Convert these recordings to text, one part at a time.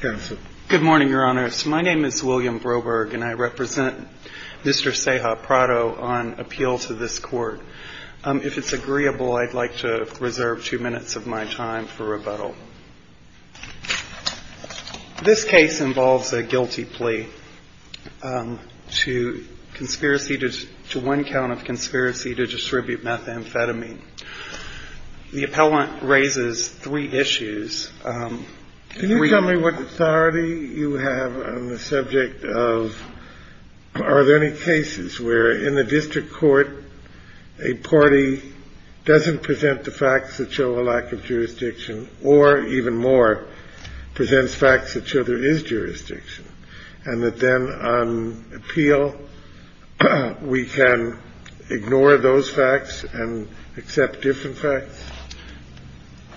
Good morning, Your Honor. My name is William Broberg, and I represent Mr. Ceja-Prado on appeals to this court. If it's agreeable, I'd like to reserve two minutes of my time for rebuttal. This case involves a guilty plea to one count of conspiracy to distribute methamphetamine. The appellant raises three issues. Can you tell me what authority you have on the subject of, are there any cases where in the district court, a party doesn't present the facts that show a lack of jurisdiction, or even more, presents facts that show there is jurisdiction, and that then on appeal, we can ignore those facts and accept different facts?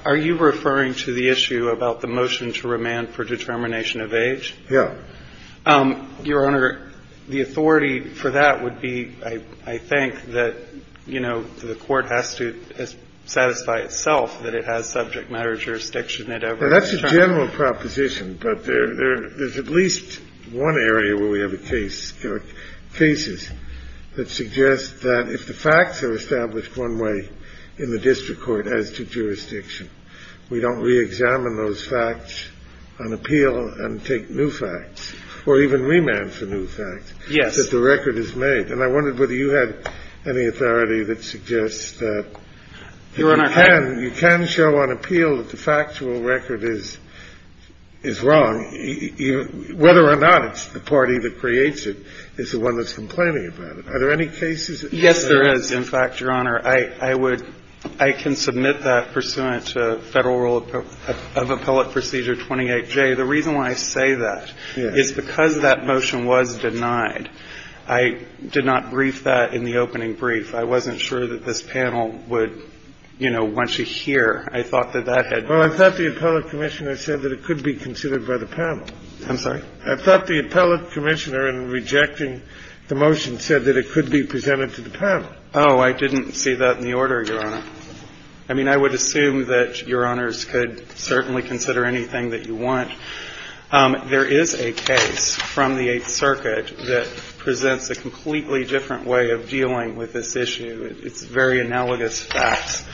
Are you referring to the issue about the motion to remand for determination of age? Yes. Your Honor, the authority for that would be, I think, that the court has to satisfy itself that it has subject matter jurisdiction in every case. That's a general proposition, but there's at least one area where we have a case. There are cases that suggest that if the facts are established one way in the district court as to jurisdiction, we don't re-examine those facts on appeal and take new facts, or even remand for new facts, that the record is made. I wonder whether you have any authority that suggests that you can show on appeal that factual record is wrong, whether or not it's the party that creates it is the one that's complaining about it. Are there any cases? Yes, there is. In fact, Your Honor, I can submit that pursuant to Federal Rule of Appellate Procedure 28J. The reason why I say that is because that motion was denied. I did not brief that in the opening brief. I wasn't sure that this panel would want to hear. I thought that that had been the case. Well, I thought the appellate commissioner said that it could be considered by the panel. I'm sorry? I thought the appellate commissioner, in rejecting the motion, said that it could be presented to the panel. Oh, I didn't see that in the order, Your Honor. I mean, I would assume that Your Honors could certainly consider anything that you want. There is a case from the Eighth Circuit that presents a completely different way of dealing with this issue. It's very analogous facts.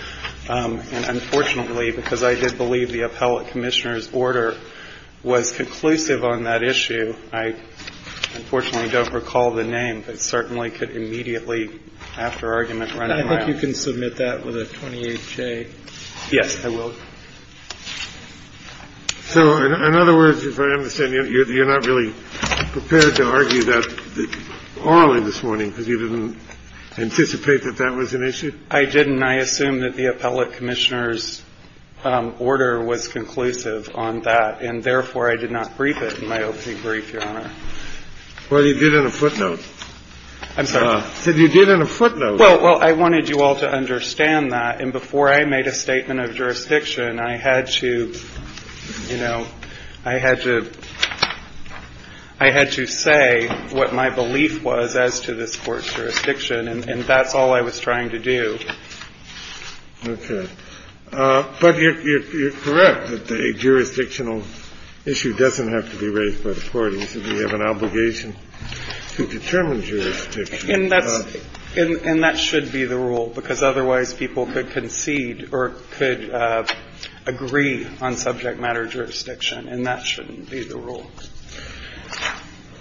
And unfortunately, because I did believe the appellate commissioner's order was conclusive on that issue, I unfortunately don't recall the name, but certainly could immediately, after argument, run it down. And I think you can submit that with a 28J. Yes, I will. So, in other words, if I understand you, you're not really prepared to argue that orally this was an issue? I didn't. I assumed that the appellate commissioner's order was conclusive on that, and therefore I did not brief it in my O.C. brief, Your Honor. Well, you did in a footnote. I'm sorry? You did in a footnote. Well, I wanted you all to understand that, and before I made a statement of jurisdiction, I had to, you know, I had to say what my belief was as to this court's jurisdiction, and that was all I was trying to do. Okay. But you're correct that a jurisdictional issue doesn't have to be raised by the court, because we have an obligation to determine jurisdiction. And that should be the rule, because otherwise people could concede or could agree on subject matter jurisdiction, and that shouldn't be the rule.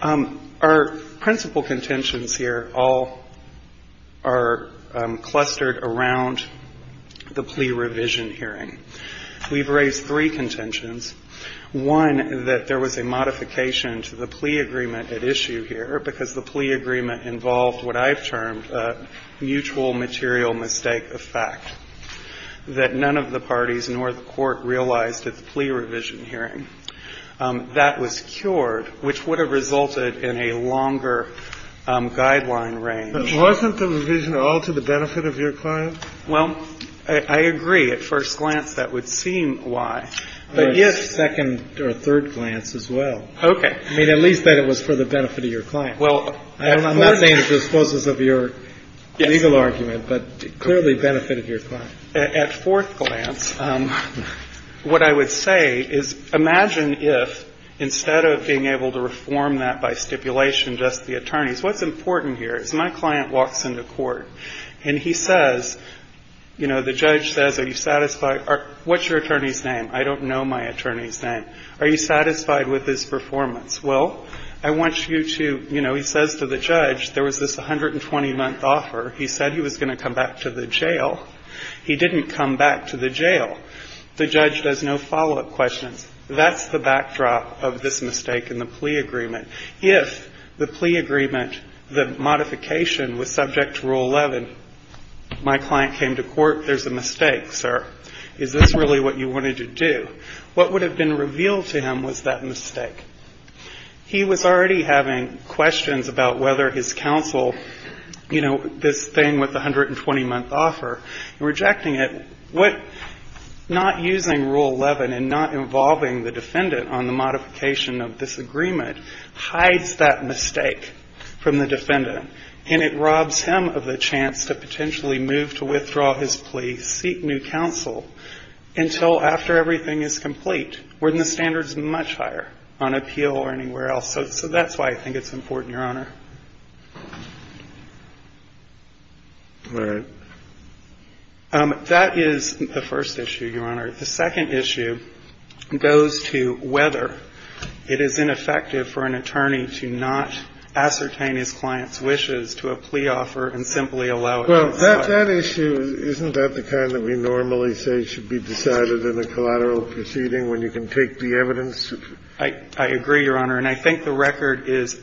Our principal contentions here all are clustered around the plea revision hearing. We've raised three contentions. One is that there was a modification to the plea agreement at issue here, because the plea agreement involved what I've termed a mutual material mistake of fact that none of the parties nor the court realized at the plea revision hearing. That was cured, which would have resulted in a longer guideline range. Wasn't the revision all to the benefit of your client? Well, I agree. At first glance, that would seem why. But yes, second or third glance as well. Okay. I mean, at least that it was for the benefit of your client. Well, I don't know. I'm not saying it's as close as of your legal argument, but clearly benefited your client. At fourth glance, what I would say is imagine if instead of being able to reform that by stipulation, just the attorneys. What's important here is my client walks into court and he says, you know, the judge says, are you satisfied? What's your attorney's name? I don't know my attorney's name. Are you satisfied with his performance? Well, I want you to, you know, he says to the judge, there was this 120-month offer. He said he was going to come back to the jail. He didn't come back to the jail. The judge does no follow-up questions. That's the backdrop of this mistake in the plea agreement. If the plea agreement, the modification was subject to Rule 11, my client came to court, there's a mistake, sir. Is this really what you wanted to do? What would have been revealed to him was that mistake. He was already having questions about whether his counsel, you know, this thing with the 120-month offer, rejecting it, not using Rule 11 and not involving the defendant on the modification of this agreement hides that mistake from the defendant. And it robs him of the chance to potentially move to withdraw his plea, seek new counsel, until after everything is complete, when the standard is much higher on appeal or anywhere else. So that's why I think it's important, Your Honor. All right. That is the first issue, Your Honor. The second issue goes to whether it is ineffective for an attorney to not ascertain his client's wishes to a plea offer and simply allow it. Well, that issue, isn't that the kind that we normally say should be decided in a collateral proceeding when you can take the evidence? I agree, Your Honor. And I think the record is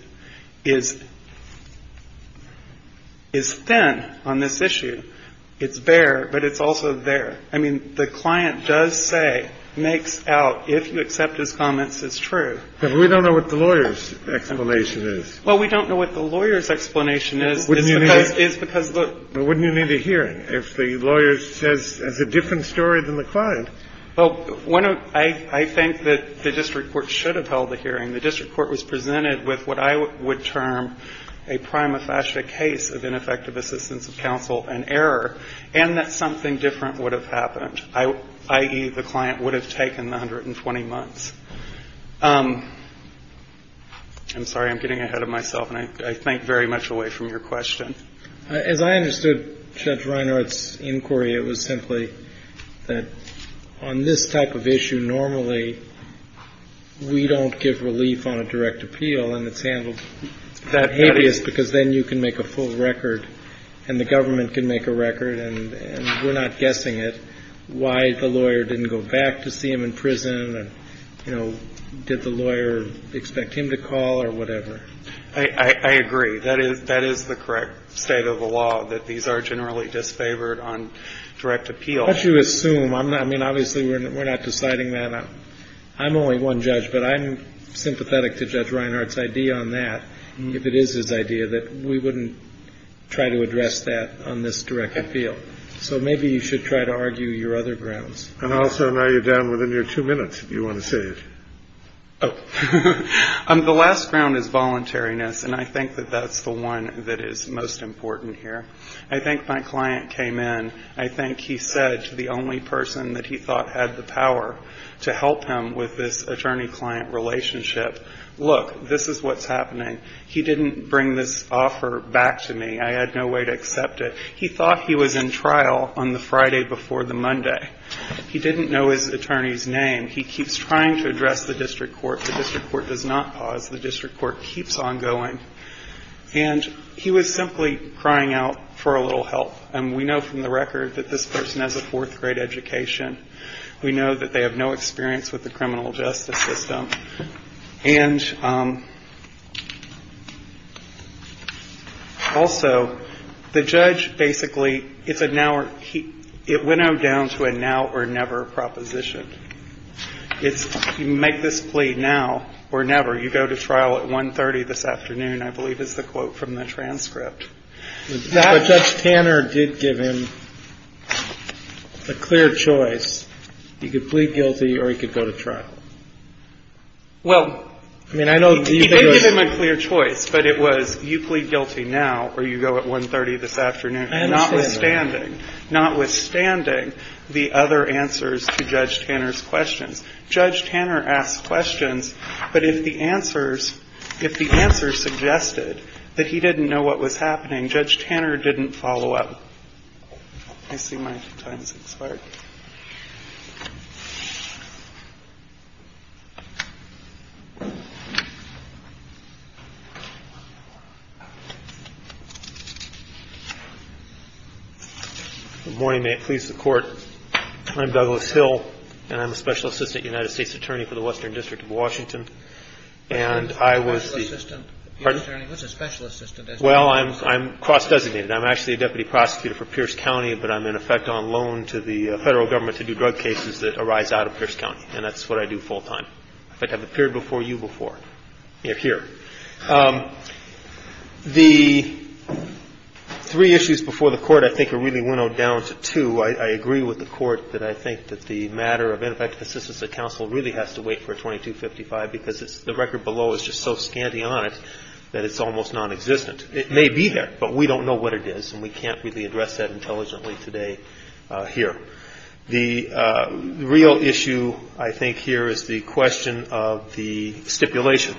thin on this issue. It's there, but it's also there. I mean, the client does say, makes out, if you accept his comments, it's true. But we don't know what the lawyer's explanation is. Well, we don't know what the lawyer's explanation is. Wouldn't you need a hearing if the lawyer says a different story than the client? Well, I think that the district court should have held a hearing. The district court was presented with what I would term a prima facie case of ineffective assistance of counsel and error, and that something different would have happened, i.e., the client would have taken 120 months. I'm sorry. I'm getting ahead of myself, and I think very much away from your question. As I understood Judge Reinhart's inquiry, it was simply that on this type of issue, normally we don't give relief on a direct appeal, and it's handled that habeas, because then you can make a full record, and the government can make a record, and we're not guessing it, why the lawyer didn't go back to see him in prison, and, you know, did the lawyer expect him to call, or whatever. I agree. That is the correct state of the law, that these are generally disfavored on direct appeal. But you assume. I mean, obviously, we're not deciding that. I'm only one judge, but I'm sympathetic to Judge Reinhart's idea on that, if it is his idea, that we wouldn't try to address that on this direct appeal. So maybe you should try to argue your other grounds. And also, now you're down within your two minutes, if you want to say this. Oh. The last ground is voluntariness, and I think that that's the one that is most important here. I think my client came in, I think he said to the only person that he thought had the power to help him with this attorney-client relationship, look, this is what's happening. He didn't bring this offer back to me. I had no way to accept it. He thought he was in trial on the Friday before the Monday. He didn't know his attorney's name. And he keeps trying to address the district court. The district court does not pause. The district court keeps on going. And he was simply crying out for a little help. And we know from the record that this person has a fourth grade education. We know that they have no experience with the criminal justice system. And also, the judge basically, it went on down to a now or never proposition. If you make this plea now or never, you go to trial at 1.30 this afternoon, I believe is the quote from the transcript. But Judge Tanner did give him a clear choice. He could plead guilty or he could go to trial. Well, he gave him a clear choice, but it was you plead guilty now or you go at 1.30 this afternoon. Notwithstanding the other answers to Judge Tanner's question. Judge Tanner asked questions, but if the answers suggested that he didn't know what was happening, Judge Tanner didn't follow up. Good morning. May it please the court. I'm Douglas Hill, and I'm a Special Assistant United States Attorney for the Western District And I was... You're not a Special Assistant. Pardon? You're not an attorney. You're a Special Assistant. Well, I'm cross-designated. I'm actually a Deputy Prosecutor for Pierce County, but I'm in effect on loan to the federal government to do drug cases that arise out of Pierce County. And that's what I do full time. I've appeared before you before. Here. The three issues before the court, I think, are really winnowed down to two. I agree with the court that I think that the matter of antithetical assistance at counsel really has to wait for 2255 because the record below is just so scanty on it that it's almost non-existent. It may be there, but we don't know what it is, and we can't really address that intelligently today here. The real issue, I think, here is the question of the stipulations.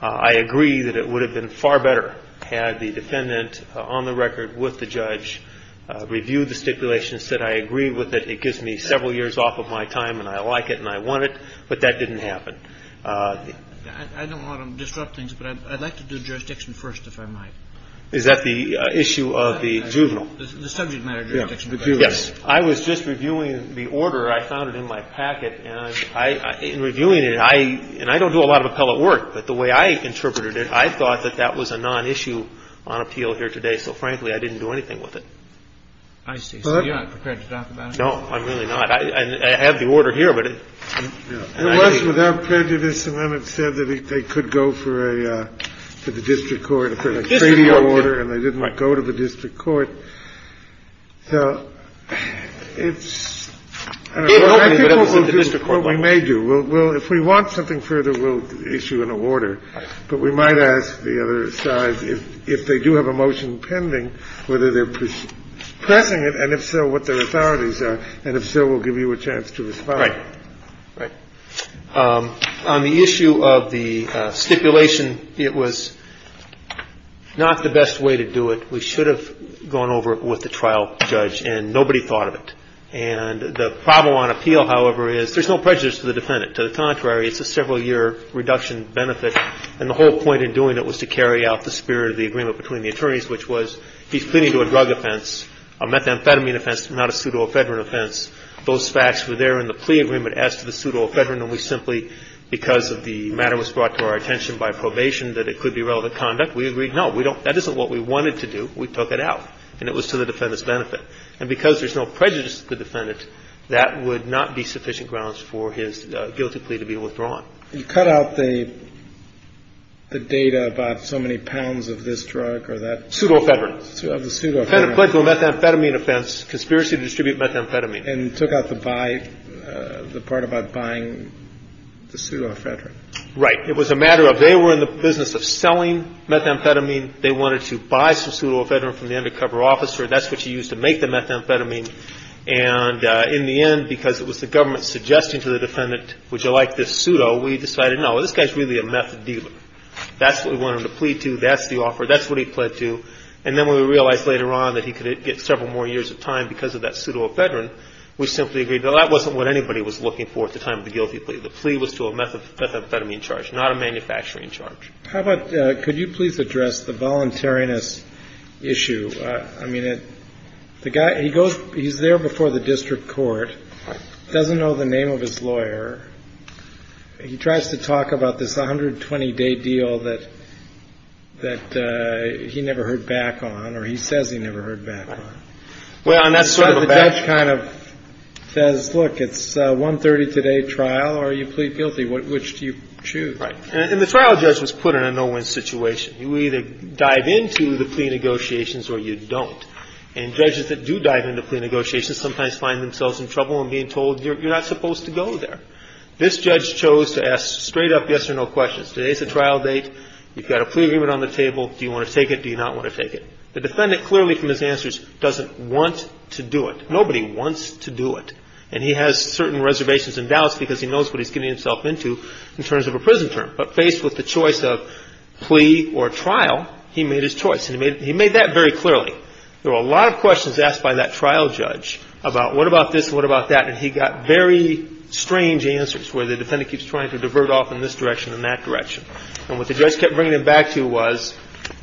I agree that it would have been far better had the defendant on the record with the judge reviewed the stipulations, said, I agree with it. It gives me several years off of my time, and I like it, and I want it, but that didn't happen. I don't want to disrupt things, but I'd like to do jurisdiction first, if I might. Is that the issue of the juvenile? The subject matter of jurisdiction. Yes. I was just reviewing the order I found in my packet, and in reviewing it, and I don't do a lot of appellate work, but the way I interpreted it, I thought that that was a non-issue on appeal here today. So, frankly, I didn't do anything with it. I see. So you're not prepared to talk about it? No, I'm really not. I have the order here, but I'm not ready. It was without prejudice. The amendment said that they could go for the district court. It was a 3-D order, and they did not go to the district court. So it's... I think we'll go to the district court. We may do. If we want something further, we'll issue an order, but we might ask the other side, if they do have a motion pending, whether they're pressing it, and if so, what their authorities are, and if so, we'll give you a chance to respond. Right. On the issue of the stipulation, it was not the best way to do it. We should have gone over it with the trial judge, and nobody thought of it. The problem on appeal, however, is there's no prejudice to the defendant. To the contrary, it's a several-year reduction benefit, and the whole point in doing it was to carry out the spirit of the agreement between the attorneys, which was he's pleading to a drug offense, a methamphetamine offense, not a pseudoephedrine offense. Those facts were there in the plea agreement as to the pseudoephedrine, and we simply, because the matter was brought to our attention by probation that it could be relevant conduct, we agreed, no, that isn't what we wanted to do. We took it out, and it was to the defendant's benefit. Because there's no prejudice to the defendant, that would not be sufficient grounds for his guilty plea to be withdrawn. You cut out the data about so many pounds of this drug or that. Pseudoephedrine. Pseudoephedrine. He pled to a methamphetamine offense, conspiracy to distribute methamphetamine. And took out the part about buying the pseudoephedrine. Right. It was a matter of they were in the business of selling methamphetamine. They wanted to buy some pseudoephedrine from the undercover officer. That's what you use to make the methamphetamine. And in the end, because it was the government suggesting to the defendant, would you like this pseudo, we decided, no, this guy's really a meth dealer. That's what we wanted the plea to. That's the offer. That's what he pled to. And then when we realized later on that he could get several more years of time because of that pseudoephedrine, we simply agreed, no, that wasn't what anybody was looking for at the time of the guilty plea. The plea was to a methamphetamine charge, not a manufacturing charge. How about, could you please address the voluntariness issue? I mean, the guy, he goes, he's there before the district court, doesn't know the name of his lawyer, and he tries to talk about this 120-day deal that he never heard back on, or he says he never heard back on. Well, and that's sort of... The judge kind of says, look, it's a one-thirtieth a day trial. Are you plea guilty? Which do you choose? Right. And the trial judge was put in a no-win situation. You either dive into the plea negotiations or you don't. And judges that do dive into plea negotiations sometimes find themselves in trouble and being told you're not supposed to go there. This judge chose to ask straight up yes or no questions. Today's the trial date. You've got a plea agreement on the table. Do you want to take it? Do you not want to take it? The defendant, clearly from his answers, doesn't want to do it. Nobody wants to do it. And he has certain reservations and doubts because he knows what he's getting himself into in terms of a prison term. But faced with the choice of plea or trial, he made his choice. And he made that very clearly. There were a lot of questions asked by that trial judge about what about this, what about that, and he got very strange answers where the defendant keeps trying to divert off in this direction and that direction. And what the judge kept bringing him back to was,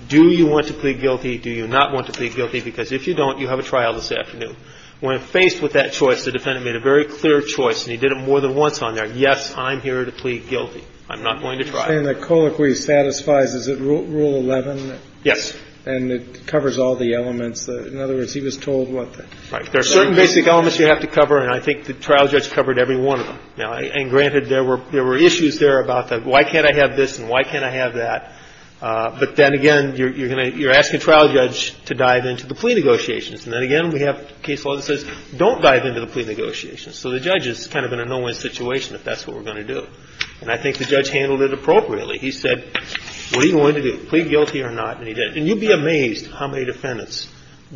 do you want to plead guilty? Do you not want to plead guilty? Because if you don't, you have a trial this afternoon. When faced with that choice, the defendant made a very clear choice, and he did it more than once on there. Yes, I'm here to plead guilty. I'm not going to try. And the co-inquiry satisfies, is it Rule 11? Yes. And it covers all the elements. In other words, he was told what the... There are certain basic elements you have to cover, and I think the trial judge covered every one of them. And granted, there were issues there about the, why can't I have this and why can't I have that? But then again, you're asking a trial judge to dive into the plea negotiations. And then again, we have case law that says, don't dive into the plea negotiations. So the judge is kind of in a no-win situation if that's what we're going to do. And I think the judge handled it appropriately. He said, what do you want to do? Plead guilty or not? And he did. And you'd be amazed how many defendants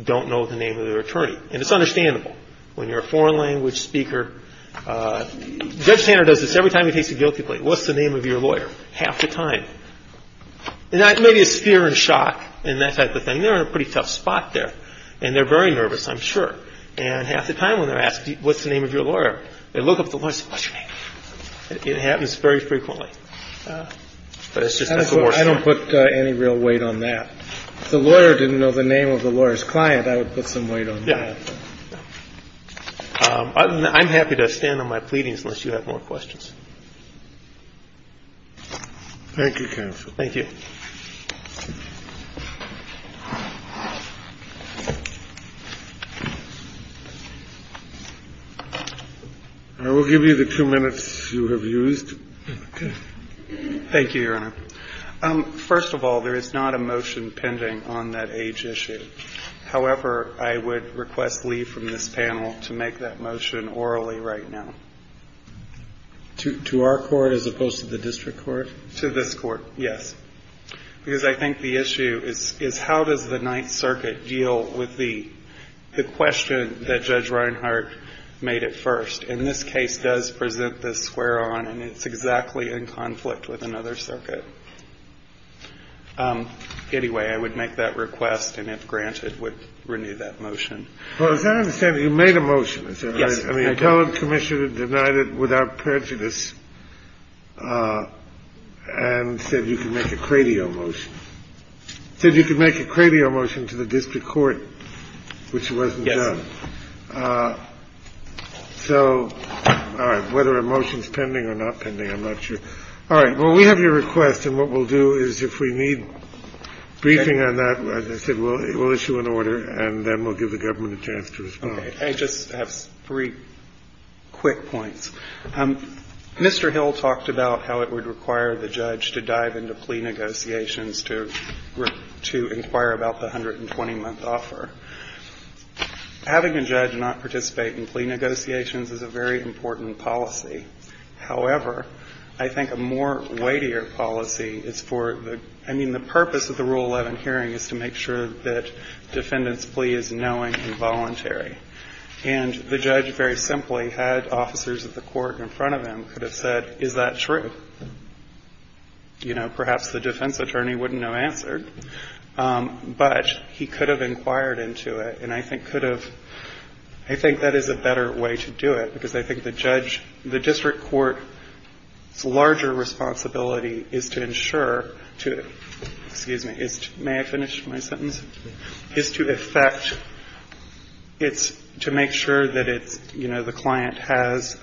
don't know the name of their attorney. And it's understandable when you're a foreign language speaker. Judge Tanner does this every time he takes a guilty plea. What's the name of your lawyer? Half the time. And maybe it's fear and shock and that type of thing. They're in a pretty tough spot there. And they're very nervous, I'm sure. And half the time when they're asked, what's the name of your lawyer? They look up the list. It happens very frequently. I don't put any real weight on that. If the lawyer didn't know the name of the lawyer's client, I would put some weight on that. I'm happy to stand on my pleadings unless you have more questions. Thank you, counsel. Thank you. I will give you the two minutes you have used. Thank you, Your Honor. First of all, there is not a motion pending on that age issue. However, I would request leave from this panel to make that motion orally right now. To our court as opposed to the district court? To this court, yes. Because I think the issue is, how does the Ninth Circuit deal with the question that Judge Reinhart made at first? And this case does present this square on, and it's exactly in conflict with another circuit. Anyway, I would make that request, and if granted, would renew that motion. Well, as I understand it, you made a motion. Yes. I mean, you told the commissioner to deny it without prejudice. And said you could make a credio motion. Said you could make a credio motion to the district court, which wasn't done. So, all right. Whether a motion is pending or not pending, I'm not sure. All right. Well, we have your request, and what we'll do is, if we need briefing on that, as I said, we'll issue an order, and then we'll give the government a chance to respond. Okay. I just have three quick points. Mr. Hill talked about how it would require the judge to dive into plea negotiations to inquire about the 120-month offer. Having a judge not participate in plea negotiations is a very important policy. However, I think a more weightier policy is for the, I mean, the purpose of the Rule 11 hearing is to make sure that defendants' plea is knowing and voluntary. And the judge, very simply, had officers of the court in front of him could have said, is that true? You know, perhaps the defense attorney wouldn't have answered. But, he could have inquired into it, and I think could have, I think that is a better way to do it, because I think the judge, the district court's larger responsibility is to ensure to, excuse me, may I finish my sentence? Is to effect, it's to make sure that it, you know, the client has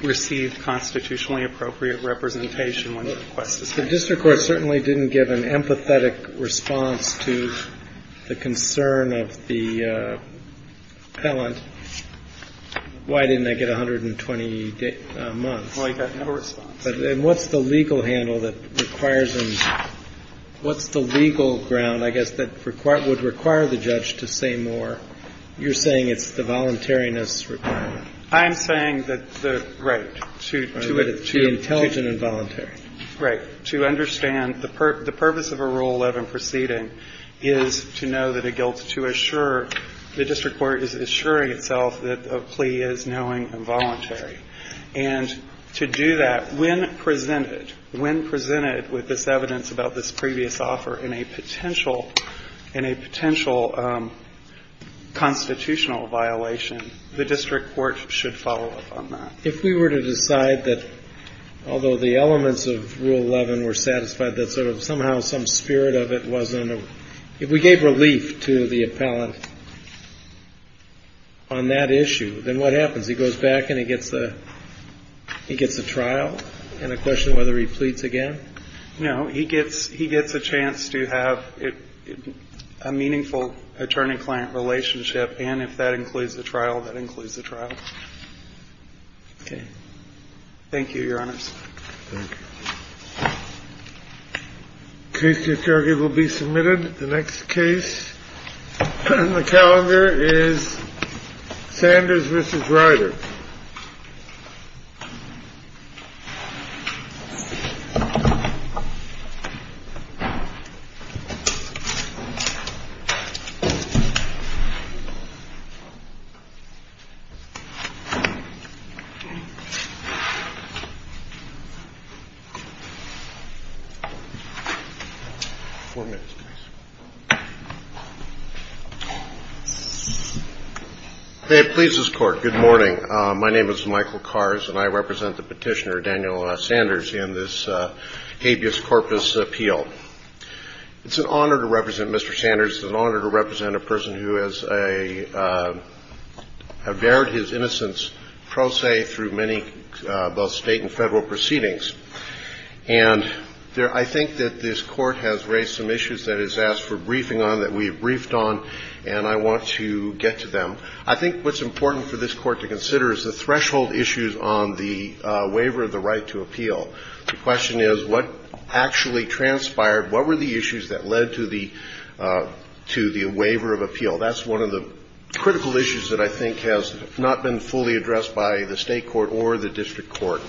received constitutionally appropriate representation. The district court certainly didn't give an empathetic response to the concern of the appellant. Why didn't I get 120 months? And what's the legal handle that requires them, what's the legal ground, I guess, that would require the judge to say more? You're saying it's the voluntariness requirement. I'm saying that the, right. To be intelligent and voluntary. Right. To understand the purpose of a Rule 11 proceeding is to know that it goes to assure, the district court is assuring itself that a plea is knowing and voluntary. And, to do that, when presented, when presented with this evidence about this previous offer in a potential, in a potential constitutional violation, the district court should follow up on that. If we were to decide that, although the elements of Rule 11 were satisfied, that sort of somehow some spirit of it wasn't, if we gave relief to the appellant on that issue, then what happens, he goes back and he gets the trial? And the question whether he pleads again? No, he gets a chance to have a meaningful attorney-client relationship, and if that includes the trial, that includes the trial. Okay. Thank you, Your Honor. Thank you. Case 330 will be submitted. The next case on the calendar is Sanders v. Ryder. Thank you. May it please this Court, good morning. My name is Michael Kars, and I represent the petitioner, Daniel Sanders, in this habeas corpus appeal. It's an honor to represent Mr. Sanders. It's an honor to represent a person who has a, have bared his innocence, pro se, through many, both state and federal proceedings. And, I think that this Court has raised some issues that it's asked for briefing on, that we've briefed on, and I want to get to them. I think what's important for this Court to consider is the threshold issues on the waiver of the right to appeal. The question is, what actually transpired, what were the issues that led to the, to the waiver of appeal? That's one of the critical issues that I think has not been fully addressed by the state court or the district court.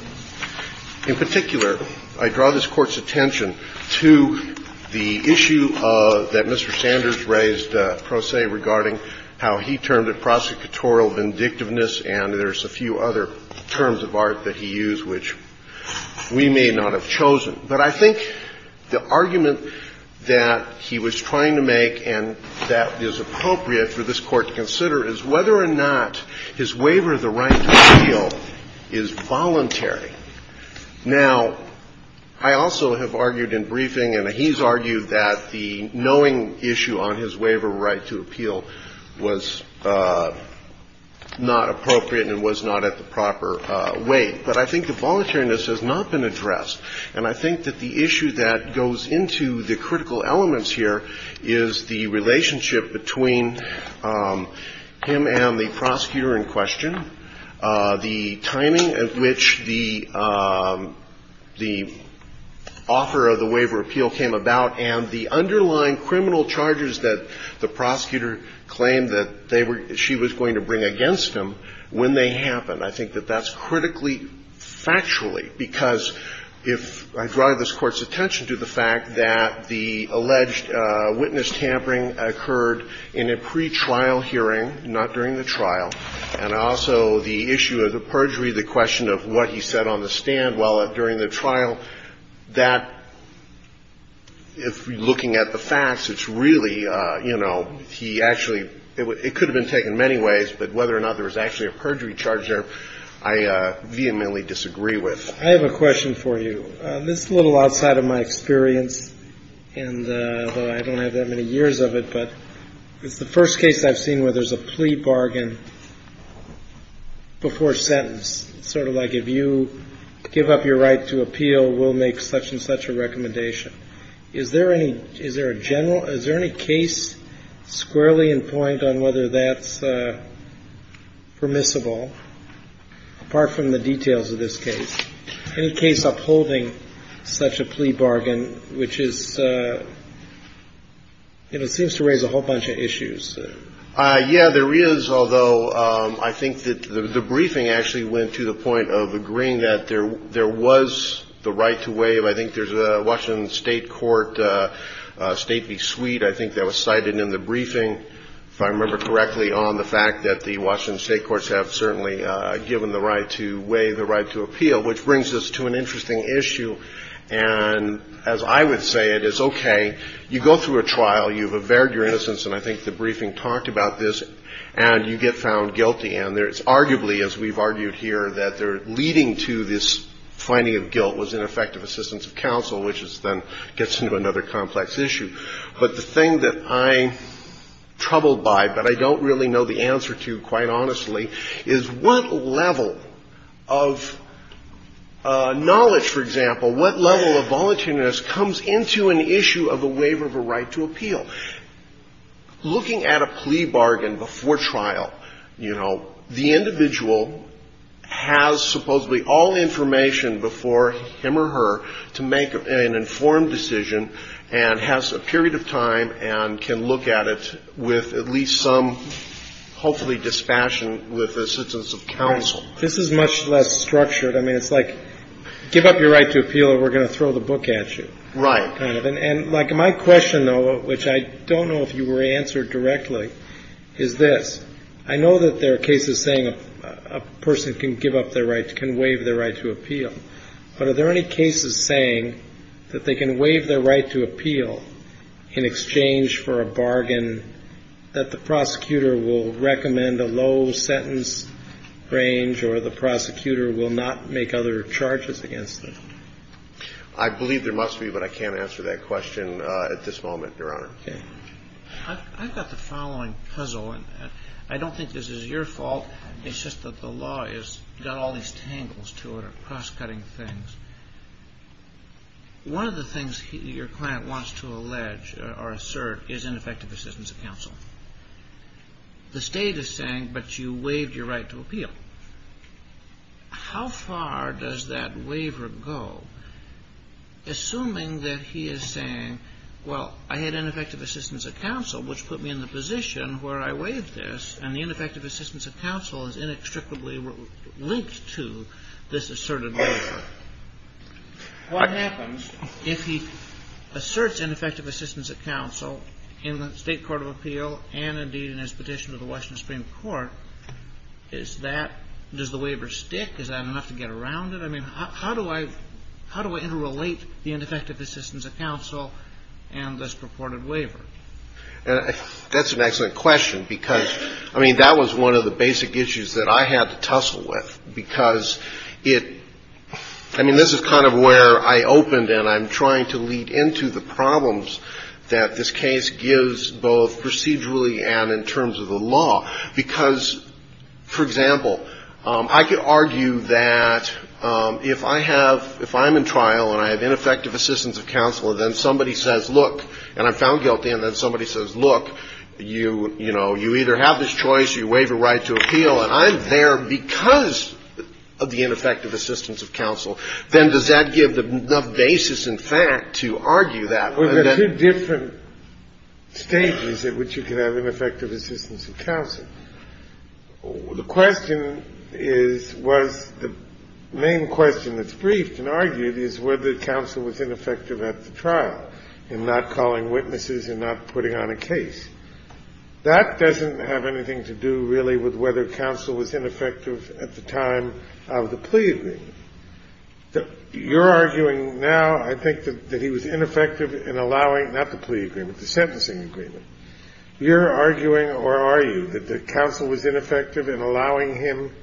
In particular, I draw this Court's attention to the issue that Mr. Sanders raised, pro se, regarding how he termed it prosecutorial vindictiveness, and there's a few other terms of art that he used which we may not have chosen. But I think the argument that he was trying to make, is whether or not his waiver of the right to appeal is voluntary. Now, I also have argued in briefing, and he's argued that the knowing issue on his waiver of right to appeal was not appropriate and was not at the proper weight. But I think the voluntariness has not been addressed. And I think that the issue that goes into the critical elements here is the relationship between him and the prosecutor in question, the timing at which the author of the waiver of appeal came about, and the underlying criminal charges that the prosecutor claimed that she was going to bring against him when they happened. I think that that's critically, factually, because if I draw this Court's attention to the fact that the alleged witness tampering occurred in a pre-trial hearing, not during the trial, and also the issue of the perjury, the question of what he said on the stand while during the trial, that, looking at the facts, it's really, you know, he actually, it could have been taken many ways, but whether or not there was actually a perjury charge there, I vehemently disagree with. I have a question for you. This is a little outside of my experience, and I don't have that many years of it, but it's the first case I've seen where there's a plea bargain before sentence. Sort of like, if you give up your right to appeal, we'll make such and such a recommendation. Is there any case squarely in point on whether that's permissible? Apart from the details of this case. Any case upholding such a plea bargain, which is, it seems to raise a whole bunch of issues. Yeah, there is, although I think that the briefing actually went to the point of agreeing that there was the right to waive, I think there's a Washington state court, state v. suite, I think that was cited in the briefing, if I remember correctly, on the fact that the Washington state courts have certainly given the right to waive the right to appeal, which brings us to an interesting issue, and as I would say, it is okay, you go through a trial, you've averred your innocence, and I think the briefing talked about this, and you get found guilty, and there's arguably, as we've argued here, that leading to this finding of guilt was ineffective assistance of counsel, which then gets into another complex issue. But the thing that I'm troubled by, but I don't really know the answer to, quite honestly, is what level of knowledge, for example, what level of volunteerness comes into an issue of the waiver of a right to appeal? Looking at a plea bargain before trial, you know, the individual has supposedly all information before him or her to make an informed decision, and has a period of time, and can look at it with at least some, hopefully, dispassion with assistance of counsel. This is much less structured, I mean, it's like, give up your right to appeal, or we're going to throw the book at you. Right. And my question, though, which I don't know if you were answered directly, is this, I know that there are cases saying a person can give up their right, can waive their right to appeal, but are there any cases saying that they can waive their right to appeal in exchange for a bargain that the prosecutor will recommend a low sentence range, or the prosecutor will not make other charges against them? I believe there must be, but I can't answer that question at this moment, Your Honor. I've got the following puzzle, and I don't think this is your fault, it's just that the law has got all these tangles to it, or cross-cutting things. One of the things your client wants to allege or assert is ineffective assistance of counsel. The state is saying, but you waived your right to appeal. How far does that waiver go, assuming that he is saying, well, I had ineffective assistance of counsel, which put me in the position where I waived this, and the ineffective assistance of counsel is inextricably linked to this asserted waiver. What happens if he asserts ineffective assistance of counsel in the state court of appeal, and indeed in his petition to the Washington Supreme Court, is that, does the waiver stick, is that enough to get around it? I mean, how do I interrelate the ineffective assistance of counsel and this purported waiver? That's an excellent question, because, I mean, that was one of the basic issues that I had to tussle with, because it, I mean, this is kind of where I opened, and I'm trying to lead into the problems that this case gives both procedurally and in terms of the law, because, for example, I could argue that if I have, if I'm in trial, and I have ineffective assistance of counsel, and then somebody says, look, and I'm found guilty, and then somebody says, look, you, you know, you either have this choice, you waive your right to appeal, and I'm there because of the ineffective assistance of counsel. Then does that give the basis in fact to argue that? Well, there's two different stages at which you can have ineffective assistance of counsel. The question is, well, the main question that's briefed and argued is whether counsel was ineffective at the trial in not calling witnesses and not putting on a case. That doesn't have anything to do really with whether counsel was ineffective at the time of the plea agreement. You're arguing now, I think, that he was ineffective in allowing, not the plea agreement, the sentencing agreement. You're arguing, or are you, that the counsel was ineffective in allowing him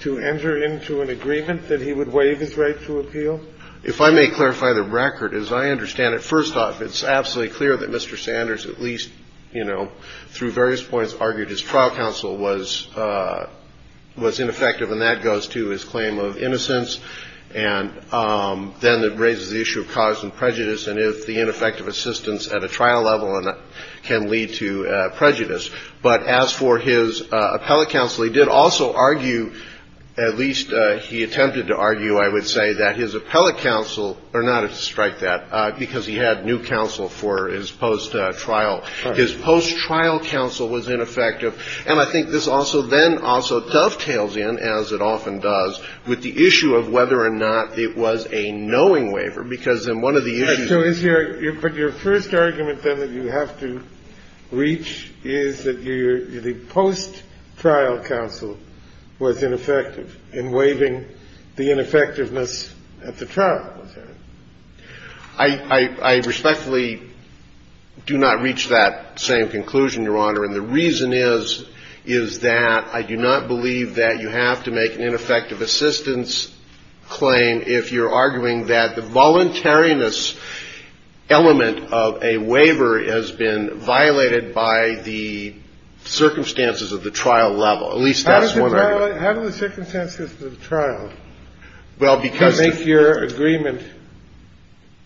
to enter into an agreement that he would waive his right to appeal? If I may clarify the record, as I understand it, first off, it's absolutely clear that Mr. Sanders, at least, you know, through various points, argued his trial counsel was, was ineffective, and that goes to his claim of innocence, and then it raises the issue of cause and prejudice, and if the ineffective assistance at a trial level can lead to prejudice. But as for his appellate counsel, he did also argue, at least he attempted to argue, I would say, that his appellate counsel, or not to strike that, because he had new counsel for his post-trial, his post-trial counsel was ineffective, and I think this also then also dovetails in, as it often does, with the issue of whether or not it was a knowing waiver, because in one of the issues... But your first argument, then, that you have to reach is that your, the post-trial counsel was ineffective in waiving the ineffectiveness at the trial level. I, I, I respectfully do not reach that same conclusion, Your Honor, and the reason is, is that I do not believe that you have to make an ineffective assistance claim if you're arguing that the voluntariness element of a waiver has been violated by the circumstances of the trial level, at least that's what I... How does it violate, how do the circumstances of the trial... Well, because... ...make your agreement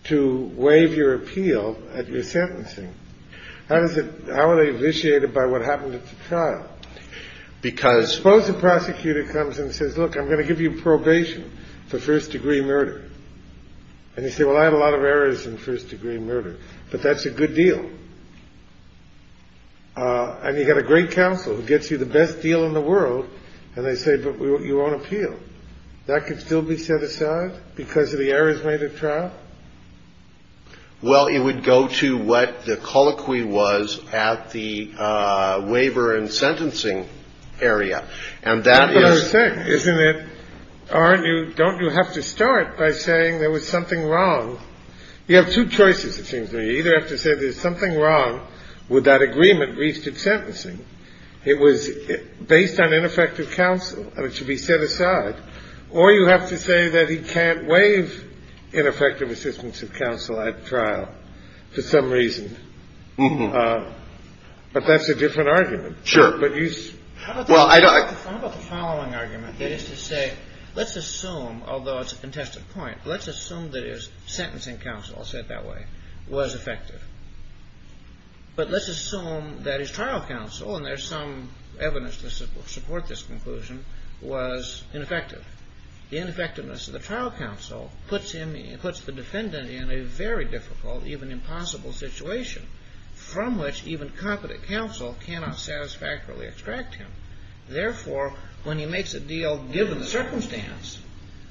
to waive your appeal at your sentencing? How does it, how are they initiated by what happens at the trial? Because... I'm going to give you probation for first-degree murder. And you say, well, I have a lot of errors in first-degree murder, but that's a good deal. And you've got a great counsel who gets you the best deal in the world, and they say, but you won't appeal. That can still be set aside because of the errors made at trial? Well, it would go to what the colloquy was at the waiver and sentencing area, and that is... Isn't it, aren't you, don't you have to start by saying there was something wrong? You have two choices, it seems to me. You either have to say there's something wrong with that agreement, at least at sentencing. It was based on ineffective counsel, and it should be set aside. Or you have to say that he can't waive ineffective assistance of counsel at trial, for some reason. But that's a different argument. Sure. How about the following argument? It is to say, let's assume, although it's a contested point, let's assume that his sentencing counsel, I'll say it that way, was effective. But let's assume that his trial counsel, and there's some evidence to support this conclusion, was ineffective. The ineffectiveness of the trial counsel puts the defendant in a very difficult, even impossible situation, from which even competent counsel cannot satisfactorily extract him. Therefore, when he makes a deal given the circumstance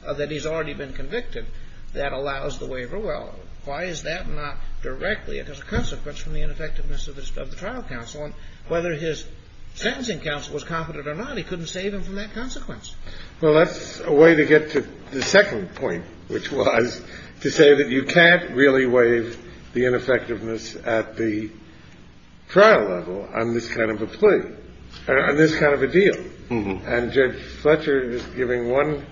that he's already been convicted, that allows the waiver. Well, why is that not directly a consequence from the ineffectiveness of the trial counsel? Whether his sentencing counsel was competent or not, he couldn't save him from that consequence. Well, that's a way to get to the second point, which was to say that you can't really waive the ineffectiveness at the trial level on this kind of a plea, on this kind of a deal. And Judge Fletcher is giving one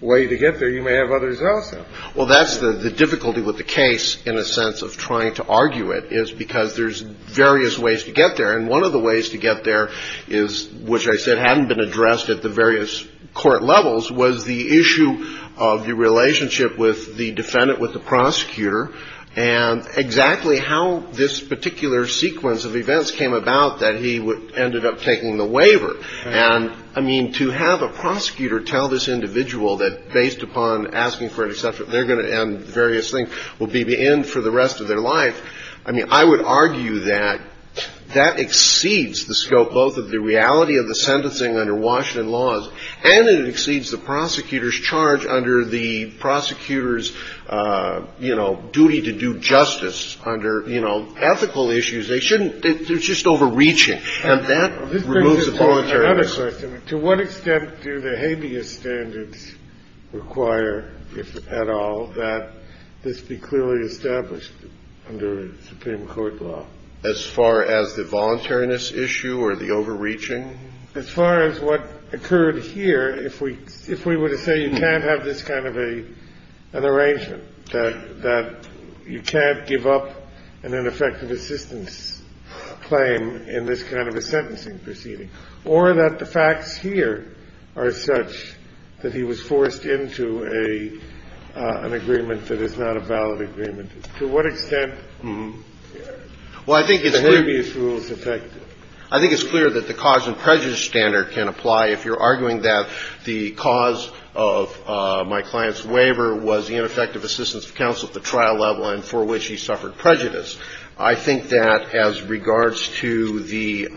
way to get there. You may have others out there. Well, that's the difficulty with the case, in a sense, of trying to argue it, is because there's various ways to get there. And one of the ways to get there is, which I said hadn't been addressed at the various court levels, was the issue of the relationship with the defendant, with the prosecutor, and exactly how this particular sequence of events came about that he ended up taking the waiver. And, I mean, to have a prosecutor tell this individual that, based upon asking for an exception, they're going to end various things, will be the end for the rest of their life, I mean, I would argue that that exceeds the scope both of the reality of the sentencing under Washington laws, and it exceeds the prosecutor's charge under the prosecutor's, you know, duty to do justice, under, you know, ethical issues, they shouldn't, they're just overreaching. And that removes the voluntariness. To what extent do the habeas standards require, if at all, that this be clearly established under the Supreme Court law? As far as the voluntariness issue or the overreaching? As far as what occurred here, if we were to say you can't have this kind of an arrangement, that you can't give up an ineffective assistance claim in this kind of a sentencing proceeding, or that the facts here are such that he was forced into an agreement that is not a valid agreement, to what extent are the habeas rules effective? I think it's clear that the cause and prejudice standard can apply if you're arguing that the cause of my client's waiver was the ineffective assistance of counsel at the trial level, and for which he suffered prejudice. I think that as regards to the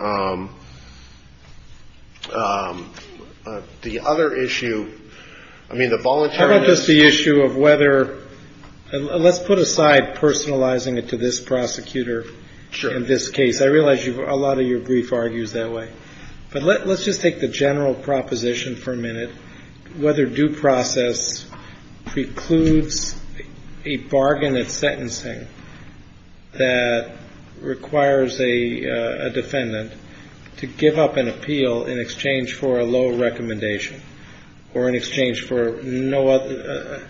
other issue, I mean, the voluntariness... How about just the issue of whether, let's put aside personalizing it to this prosecutor in this case. I realize a lot of your brief argues that way, but let's just take the general proposition for a minute. Whether due process precludes a bargain of sentencing that requires a defendant to give up an appeal in exchange for a low recommendation, or in exchange for the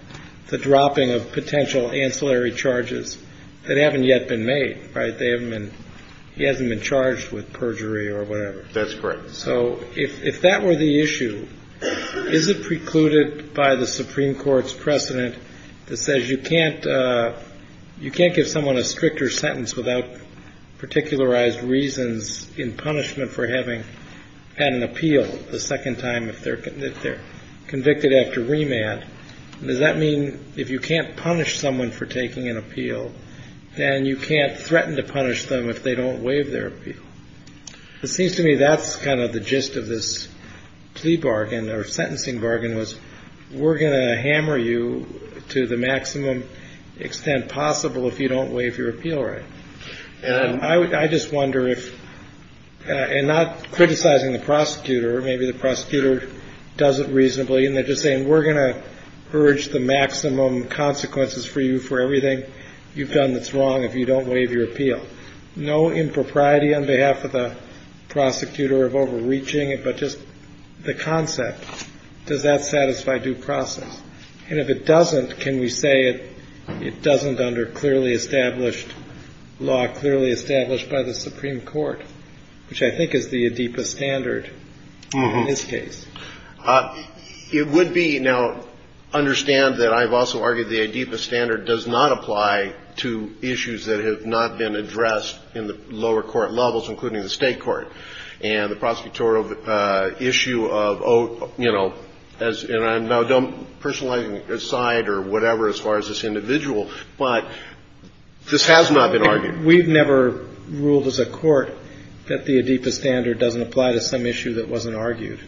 dropping of potential ancillary charges that haven't yet been made. He hasn't been charged with perjury or whatever. That's correct. So if that were the issue, is it precluded by the Supreme Court's precedent that says you can't give someone a stricter sentence without particularized reasons in punishment for having had an appeal the second time if they're convicted after remand? Does that mean if you can't punish someone for taking an appeal, then you can't threaten to punish them if they don't waive their appeal? It seems to me that's kind of the gist of this plea bargain or sentencing bargain was, we're going to hammer you to the maximum extent possible if you don't waive your appeal right. I just wonder if, and not criticizing the prosecutor, maybe the prosecutor does it reasonably, and they're just saying, we're going to urge the maximum consequences for you for everything. You've done this wrong if you don't waive your appeal. No impropriety on behalf of the prosecutor of overreaching it, but just the concept, does that satisfy due process? And if it doesn't, can we say it doesn't under clearly established law, clearly established by the Supreme Court, which I think is the ADEPA standard in this case. It would be, now understand that I've also argued the ADEPA standard does not apply to issues that have not been addressed in the lower court levels, including the state court. And the prosecutorial issue of, you know, and I don't personalize this side or whatever as far as this individual, but this has not been argued. We've never ruled as a court that the ADEPA standard doesn't apply to some issue that wasn't argued.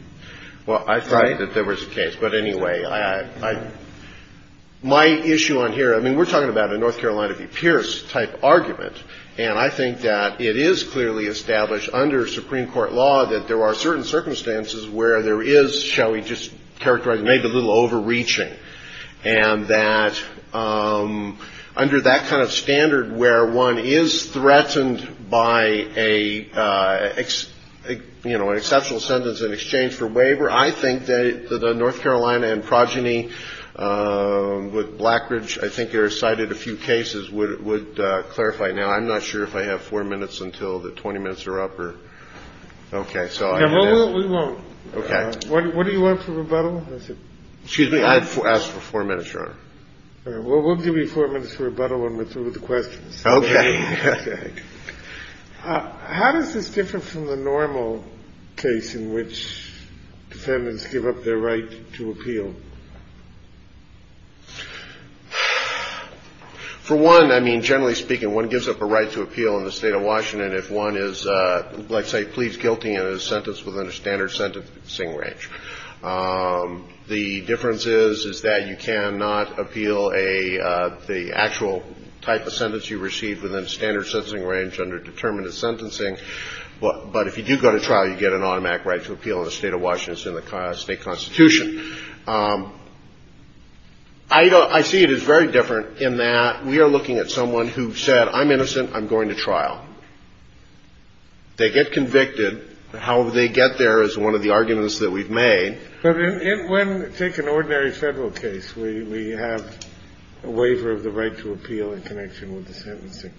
Well, I thought that there was a case, but anyway. My issue on here, I mean, we're talking about a North Carolina v. Pierce type argument. And I think that it is clearly established under Supreme Court law that there are certain circumstances where there is, shall we just characterize, maybe a little overreaching. And that under that kind of standard, where one is threatened by an exceptional sentence in exchange for waiver, I think that the North Carolina and progeny with Blackridge, I think there are cited a few cases would clarify. Now, I'm not sure if I have four minutes until the 20 minutes are up. Okay. We won't. What do you want for rebuttal? Excuse me, I asked for four minutes, Your Honor. We'll give you four minutes for rebuttal and let's move to questions. Okay. How does this differ from the normal case in which defendants give up their right to appeal? For one, I mean, generally speaking, one gives up a right to appeal in the state of Washington if one is, let's say, pleads guilty and is sentenced within a standard sentencing range. The difference is that you cannot appeal the actual type of sentence you receive within a standard sentencing range under determinative sentencing. But if you do go to trial, you get an automatic right to appeal in the state of Washington in the state constitution. I see it as very different in that we are looking at someone who said, I'm innocent, I'm going to trial. They get convicted. How they get there is one of the arguments that we've made. When we take an ordinary federal case, we have a waiver of the right to appeal in connection with the sentencing.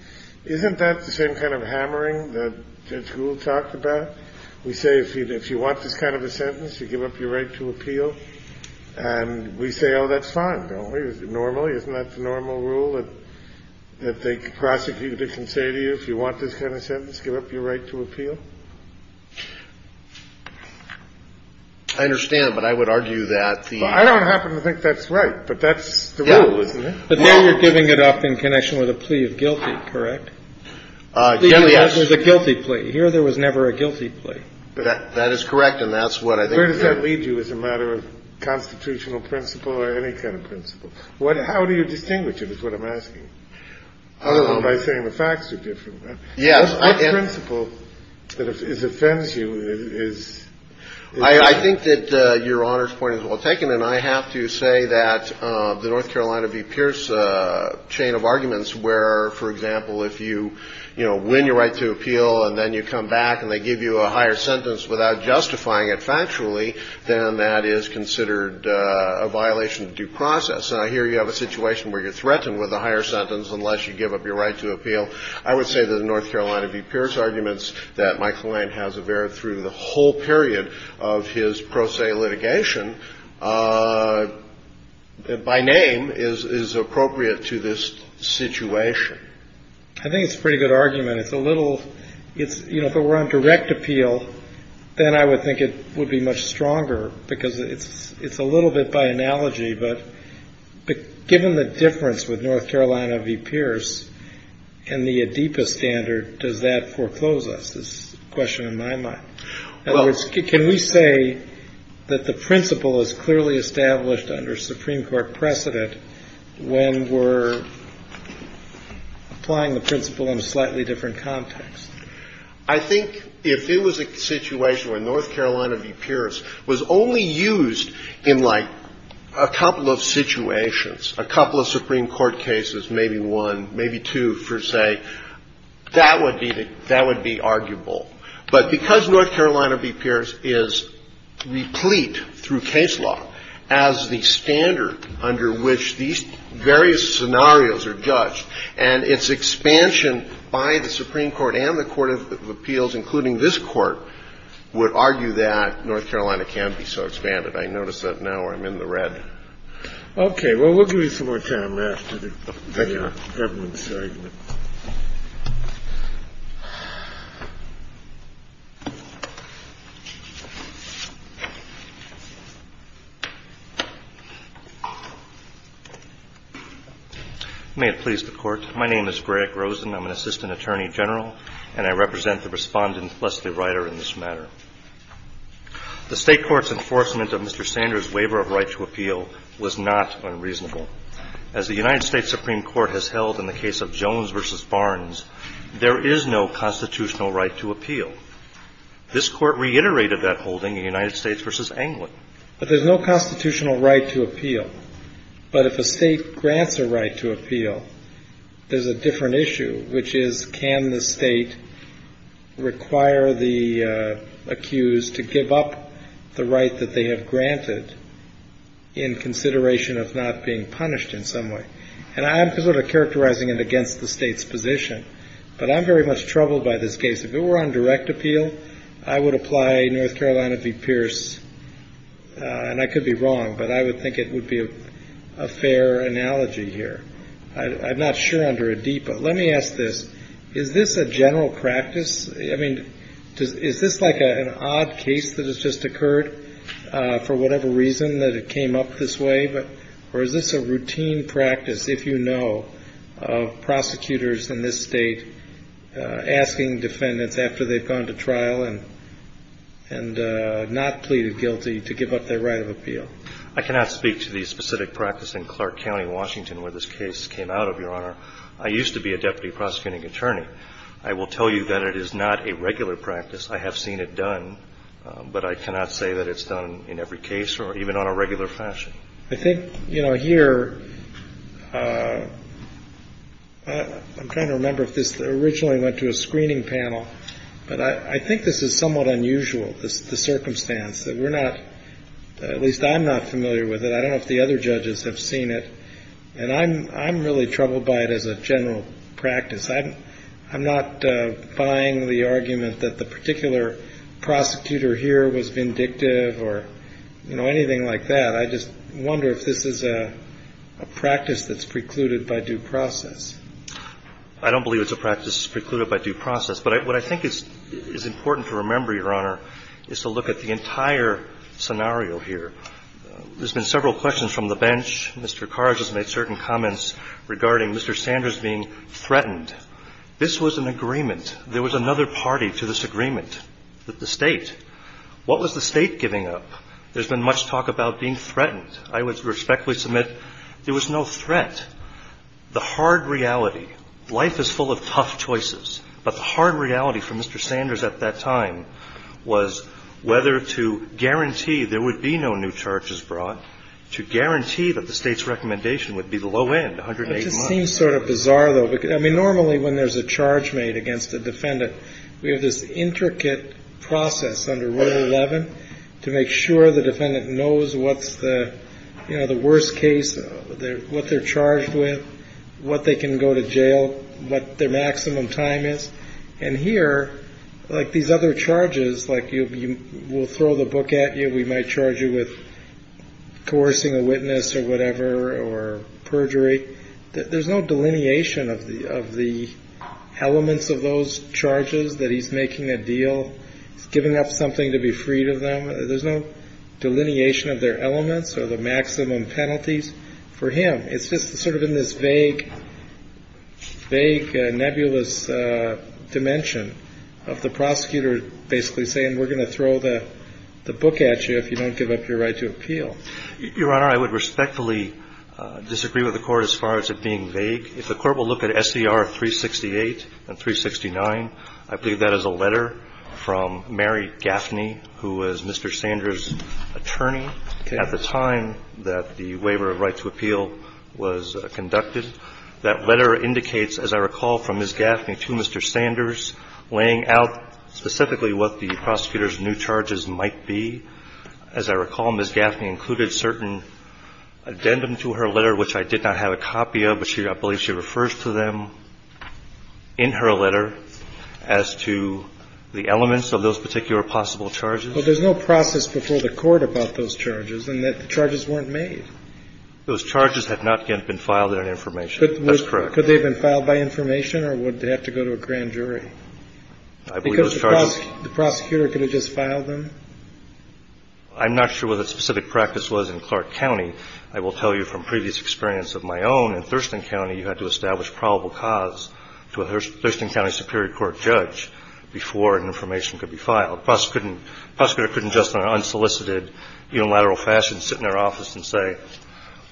Isn't that the same kind of hammering that Judge Gould talked about? We say, if you want this kind of a sentence, you give up your right to appeal. And we say, oh, that's fine. Isn't that the normal rule that they prosecute the constituency if you want this kind of sentence, give up your right to appeal? I understand, but I would argue that the... I don't happen to think that's right, but that's the rule. But then you're giving it up in connection with a plea of guilty, correct? There was a guilty plea. Here, there was never a guilty plea. That is correct, and that's what I think... Where does that lead you as a matter of constitutional principle or any kind of principle? How do you distinguish it is what I'm asking. I don't know if I'm saying the facts are different. Yes, I... What principle is it that sends you? I think that your honor's point is well taken, and I have to say that the North Carolina v. Pierce chain of arguments where, for example, if you win your right to appeal and then you come back and they give you a higher sentence without justifying it factually, then that is considered a violation of due process. And I hear you have a situation where you're threatened with a higher sentence unless you give up your right to appeal. I would say that the North Carolina v. Pierce arguments that my client has averted through the whole period of his pro se litigation by name is appropriate to this situation. I think it's a pretty good argument. It's a little... If it were on direct appeal, then I would think it would be much stronger because it's a little bit by analogy, but given the difference with North Carolina v. Pierce and the ADEPA standard, does that foreclose us? That's the question in my mind. In other words, can we say that the principle is clearly established under Supreme Court precedent when we're applying the principle in a slightly different context? I think if it was a situation where North Carolina v. Pierce was only used in like a couple of situations, a couple of Supreme Court cases, maybe one, maybe two, per se, that would be arguable. But because North Carolina v. Pierce is replete through case law as the standard under which these various scenarios are judged and its expansion by the Supreme Court and the Court of Appeals, including this court, would argue that North Carolina can't be so expanded. I noticed that now where I'm in the red. Okay. Well, we'll give you some more time after the regular evidence segment. May it please the Court. My name is Greg Rosen. I'm an Assistant Attorney General and I represent the respondent, Leslie Ryder, in this matter. The state court's enforcement of the appeal was not unreasonable. As the United States Supreme Court has held in the case of Jones v. Barnes, there is no constitutional right to appeal. This court reiterated that holding in United States v. Anglin. But there's no constitutional right to appeal. But if a state grants a right to appeal, there's a different issue, which is can the state require the accused to give up the right that they have granted in consideration of not being punished in some way? And I'm sort of characterizing it against the state's position. But I'm very much troubled by this case. If it were on direct appeal, I would apply North Carolina v. Pierce. And I could be wrong, but I would think it would be a fair analogy here. I'm not sure under a D, but let me ask this. Is this a general practice? I mean, is this like an odd case that has just occurred for whatever reason that it came up this way? Or is this a routine practice, if you know, of prosecutors in this state asking defendants after they've gone to trial and not pleaded guilty to give up their right of appeal? I cannot speak to the specific practice in Clark County, Washington where this case came out of, Your Honor. I used to be a deputy prosecuting attorney. I will tell you that it is not a regular practice. I have seen it done, but I cannot say that it's done in every case or even on a regular fashion. I think, you know, here, I'm trying to remember if this originally went to a screening panel, but I think this is and I'm really troubled by it as a general practice. I'm not buying the argument that the particular prosecutor here was vindictive or anything like that. I just wonder if this is a practice that's precluded by due process. I don't believe it's a practice precluded by due process, but what I think is important to remember, Your Honor, is to look at the entire scenario here. There's been several questions from the bench. Mr. Carr has made certain comments regarding Mr. Sanders being threatened. This was an agreement. There was another party to this agreement with the state. What was the state giving up? There's been much talk about being threatened. I would respectfully submit there was no threat. The hard reality, life is full of tough choices, but the hard reality for Mr. Sanders at that time was whether to guarantee there would be no new charges brought, to guarantee that the state's recommendation would be the low end, 108 months. It seems sort of bizarre though. Normally when there's a charge made against the defendant, we have this intricate process under Rule 11 to make sure the defendant knows what's the worst case, what they're charged with, what they can go to jail, what their maximum time is. Here, like these other charges, like we'll throw the book at you, we might charge you with coercing a witness or whatever, or perjury, there's no delineation of the elements of those charges that he's making a deal, giving up something to be freed of them. There's no delineation of their elements or the maximum penalties for him. It's just sort of in this vague, nebulous dimension of the prosecutor basically saying we're going to throw the book at you if you don't give up your right to appeal. Your Honor, I would respectfully disagree with the court as far as it being vague. If the court will look at SDR 368 and 369, I believe that is a letter from Mary Gaffney, who was Mr. Sanders' attorney at the time that the waiver of right to appeal was conducted. That letter indicates, as I recall, from Ms. Gaffney to Mr. Sanders, laying out specifically what the prosecutor's new charges might be. As I recall, Ms. Gaffney referred to them in her letter as to the elements of those particular possible charges. Well, there's no process before the court about those charges in that charges weren't made. Those charges have not been filed in that information. That's correct. Could they have been filed by information or would they have to go to a grand jury? I'm not sure what that specific practice was in Clark County. I will tell you from previous experience of my own, in Thurston County, you had to establish probable cause to a Thurston County Superior Court judge before information could be filed. The prosecutor couldn't just in an unsolicited, unilateral fashion sit in their office and say,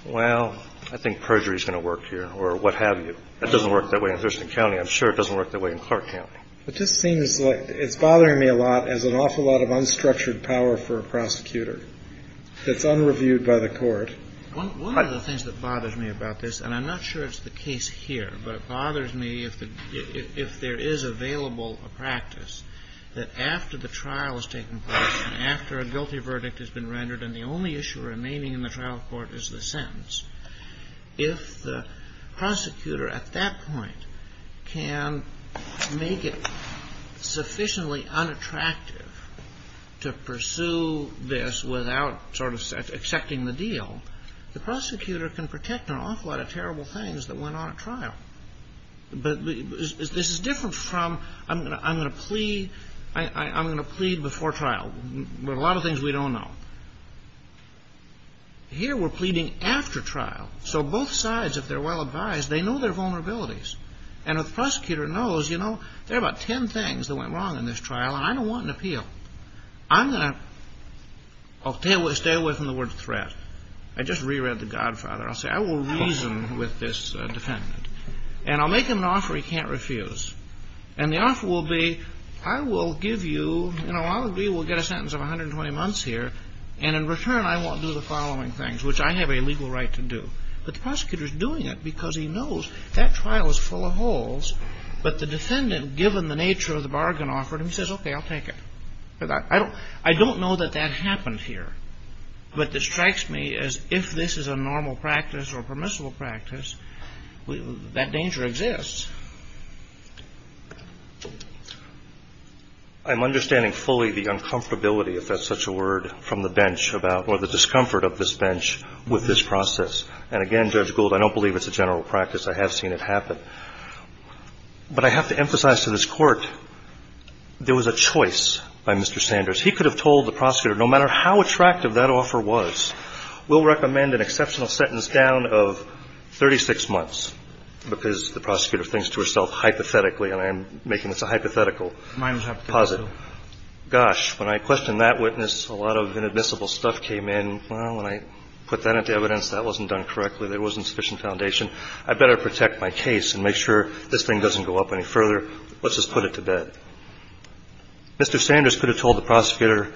well, I think perjury is going to work here, or what have you. That doesn't work that I'm sure it doesn't work that way in Clark County. It's bothering me a lot as an awful lot of unstructured power for a prosecutor. It's unreviewed by the court. One of the things that bothers me about this, and I'm not sure it's the case here, but it bothers me if there is available practice that after the trial has taken place, after a guilty verdict has been rendered and the only issue remaining in the this without having to go to a grand jury, then I think that's a good practice. I don't think that's a good practice. I don't think that's a good Because, again, if you don't go to a grand jury without sort of accepting the deal, the prosecutor can protect an awful lot of terrible things that went on at trial. But this is different from, I'm going to plead, I'm going to plead before trial. There are a lot of things we don't know. Here we're pleading after trial. So both sides, if they're well advised, they know their vulnerabilities. And a prosecutor knows, you know, there are about ten things that went wrong in this trial and I don't want an appeal. I'm going to stay away from the word threat. I just reread the Godfather. I'll say, I will reason with this defendant. And I'll make him an offer he can't refuse. And the offer will be, I will give you, you know, I will get a sentence of 120 months here and in return I won't do the following things, which I have a legal right to do. The prosecutor is doing it because he knows that trial is full of holes. But the defendant, given the nature of the bargain offer, he says, okay, I'll take it. I don't know that that happened here. But what strikes me is if this is a normal practice or permissible practice, that danger exists. I'm understanding fully the uncomfortability, if that's such a word, from the bench, about the discomfort of this bench with this process. And again, Judge Gould, I don't believe it's a general practice. I have seen it happen. But I have to emphasize to this court there was a choice by Mr. Sanders. He could have told the prosecutor, no matter how attractive that offer was, we'll recommend an exceptional sentence down of 36 months, because the prosecutor thinks to herself, hypothetically, and I'm making this a hypothetical posit. Gosh, when I questioned that witness, a lot of inadmissible stuff came in. Well, when I put that at the evidence, that wasn't done correctly. There wasn't enough evidence. So I said, well, let's just put it to bed. Mr. Sanders could have told the prosecutor,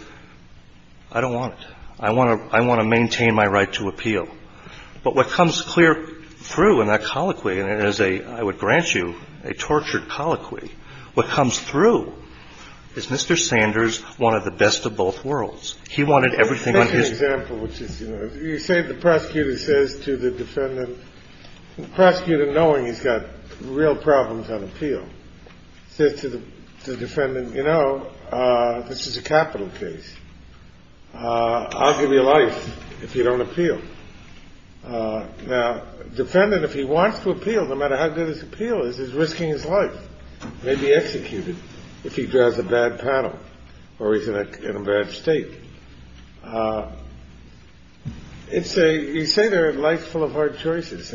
I don't want it. I want to maintain my right to appeal. But what comes clear through in that colloquy, and it is a, I would grant you, a tortured colloquy, what comes through is Mr. Sanders wanted the best of both worlds. He wanted everything on his case. That's an example. You say the prosecutor says to the defendant, the prosecutor knowing he's got real problems on appeal says to the defendant, you know, this is a capital case. I'll give you life if you don't appeal. Now, the defendant, if he wants to appeal, no matter how good his appeal is, he's executed if he drives a bad panel or he's in a bad state. You say there are life-threatening problems. Well, there are life- threatening There are all of our choices,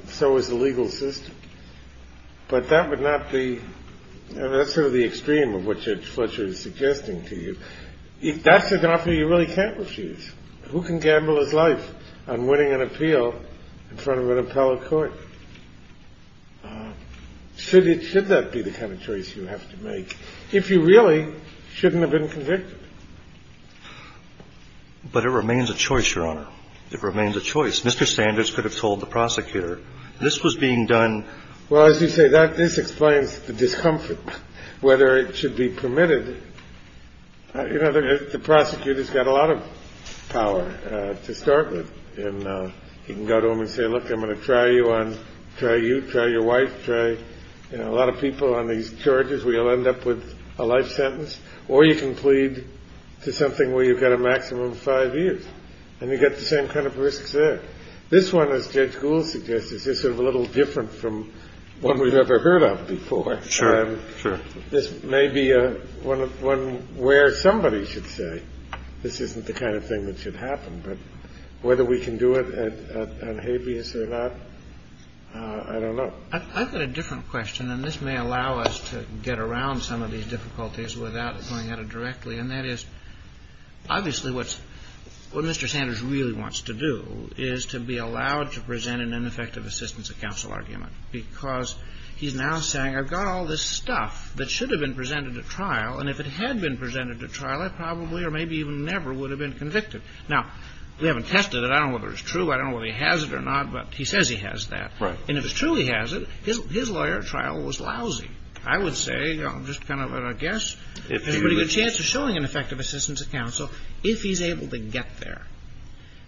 and so is the legal system. But, that would not be, that's sort of the extreme of what Fletcher is suggesting to you. If that's an opportunity you really can't refuse. Who can gamble their life on winning an appeal in trying to run a court? Should that be the kind of choice you have to make? If you really shouldn't have been convicted. But it remains a choice, your Honor. It remains a choice. Mr. Sanders could have told the prosecutor. This was being done. Well, as you say, this explains the discomfort, whether it should be permitted. The prosecutor's got a lot of power to start with. You can go to him and say, look, I'm going to try you, try your wife, try a lot of people on these charges where you'll end up with a life sentence, or you can plead guilty to something where you've got a maximum of five years. And you get the same kind of risks there. This one is a little different from one we've ever heard of before. This may be one where somebody should say, this isn't the kind of thing that should happen, but whether we can do it or not, I don't know. I've got a different question, and this may allow us to get around some of these difficulties without going at it directly, and that is, obviously, what Mr. Sanders really wants to do is to be allowed to present an ineffective assistance of counsel argument, because he's now saying, I've got all this stuff that should have been presented at trial, and if it had been presented at trial, I probably or maybe even never would have been convicted. Now, we haven't tested it, I don't know if it's true, I don't know if he has it or not, but he says he has that. And if it truly has it, his lawyer at trial was lousy. I would say there's a pretty good chance of showing an ineffective assistance of counsel if he's able to get there.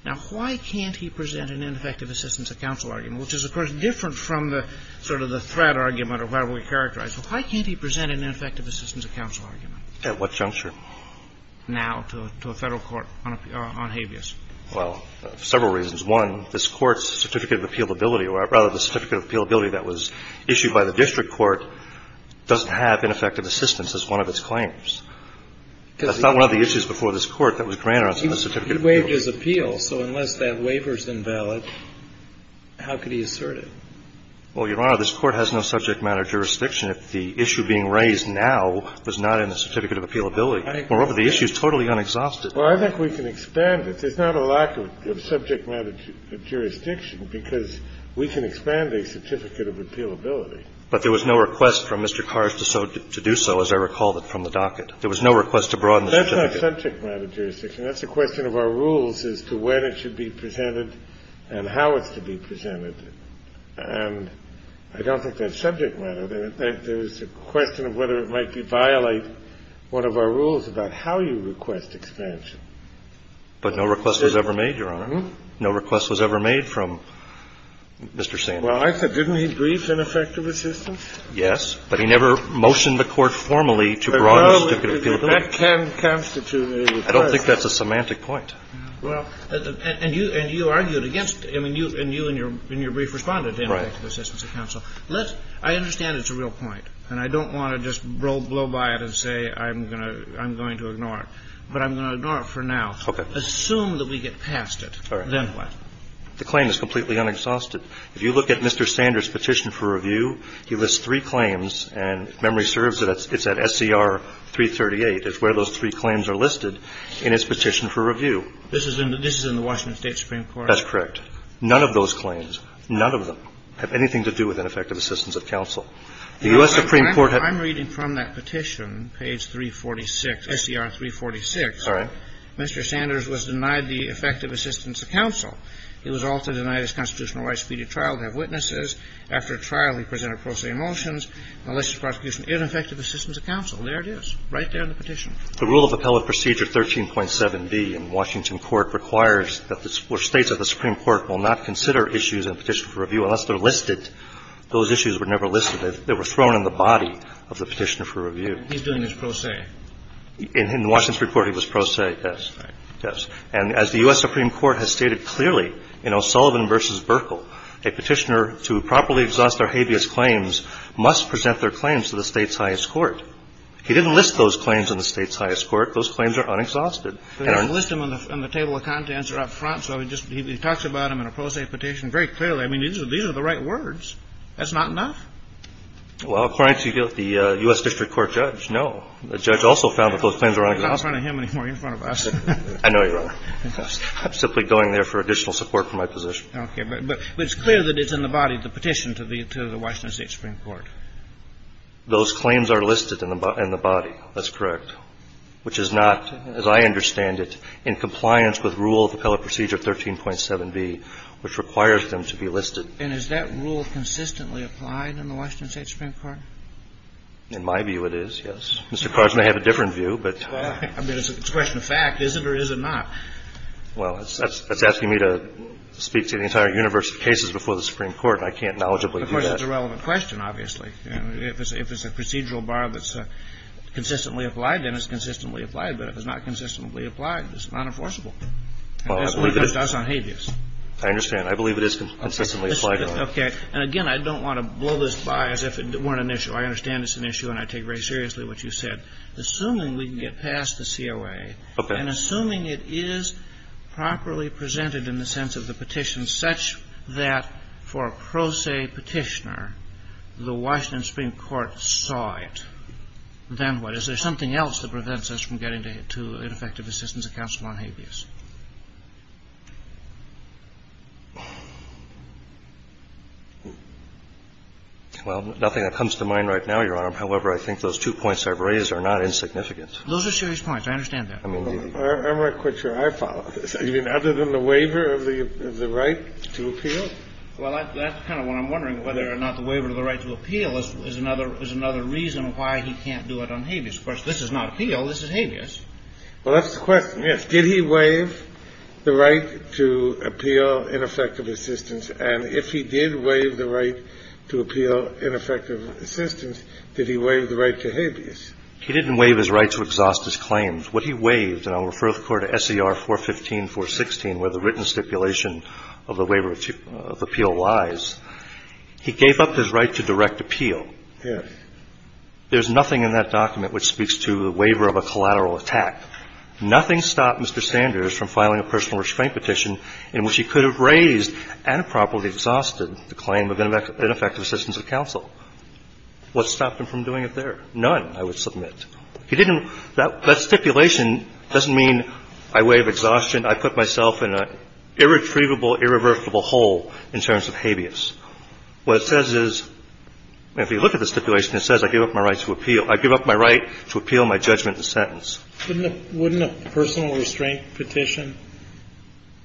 Now, why can't he present an ineffective assistance of counsel argument? At what juncture? Now, to a federal court on habeas. Well, several reasons. One, this court's certificate of appealability, or rather the certificate of appealability that was issued by the district court doesn't have ineffective assistance as one of its claims. That's not one of the issues before this court that was granted. He waived his appeal. So unless that waiver's invalid, how could he assert it? Well, Your Honor, this court has no subject matter jurisdiction. If the issue being raised now was not in the certificate of appealability, moreover, the issue is totally unexhausted. Well, I think we can expand it. There's not a lack of subject matter jurisdiction because we can expand a certificate of appealability. But there was no request from Mr. Kars to do so, as I recalled it from the docket. That's not subject matter jurisdiction. That's a question of our rules as to when it should be presented and how it should be presented. And I don't think that's subject matter. In fact, there's a question of whether it might violate one of our rules about how you request expansion. But no request was ever made, Your Honor. No request was ever made from Mr. Sandberg. Well, I said didn't he in your brief response. I understand it's a real point. And I don't want to just blow by it and say I'm going to ignore it. But I'm going to ignore it for now. Assume that we get past it. Then what? The claim is completely unexhausted. If you look at Mr. Sanders' petition for effective counsel, none of those claims, none of them had anything to do with ineffective assistance of counsel. I'm reading from that petition, page 346, Mr. Sanders was denied the effective assistance to counsel. He was also denied his constitutional rights to be a trial witness. The rule of appellate procedure 13.7B in Washington court states that the Supreme Court will not consider issues in the petition unless they are listed. Those issues were never listed. They were thrown in the body of the petitioner for review. In Washington court the petitioner must present their claims to the state's highest court. He didn't list those claims in the state's highest court. Those claims are unexhausted. These are the right words. That's not enough. According to the U.S. district court the judge also found that those claims were unexhausted. I'm simply going there for additional support for my position. Those claims are listed in the body. That's correct. Which is not, as I understand it, in compliance with rule of appellate procedure 13.7B which requires them to be listed. Is that rule consistently applied in the Washington state Supreme Court? In my view it is. It's a question of fact, is it or is it not? That's asking me to speak to the entire universe of cases before the Supreme Court. It's a relevant question. If it's not, I don't want to blow this by as if it weren't an issue. I take seriously what you said. Assuming we can get past the COA and assuming it is properly presented in the sense of the petition such that for a pro se petitioner the Washington Supreme Court saw it, then what? Is there something else that prevents us from getting to ineffective assistance of counsel on habeas? Nothing that comes to mind right now, however, I think those two points are not insignificant. I'm not quite sure I follow. Other than the waiver of the right to appeal? That's what I'm wondering. The waiver of the right to appeal is another reason why he can't do it on habeas. This is not appeal, this is habeas. Did he waive the right to appeal ineffective assistance? And if he did waive the right to appeal ineffective assistance, did he waive the right to If waive the right to appeal, otherwise, he gave up his right to direct appeal. There's nothing in that document which speaks to the waiver of a collateral attack. Nothing stopped Mr. Sanders from filing a personal restraint petition.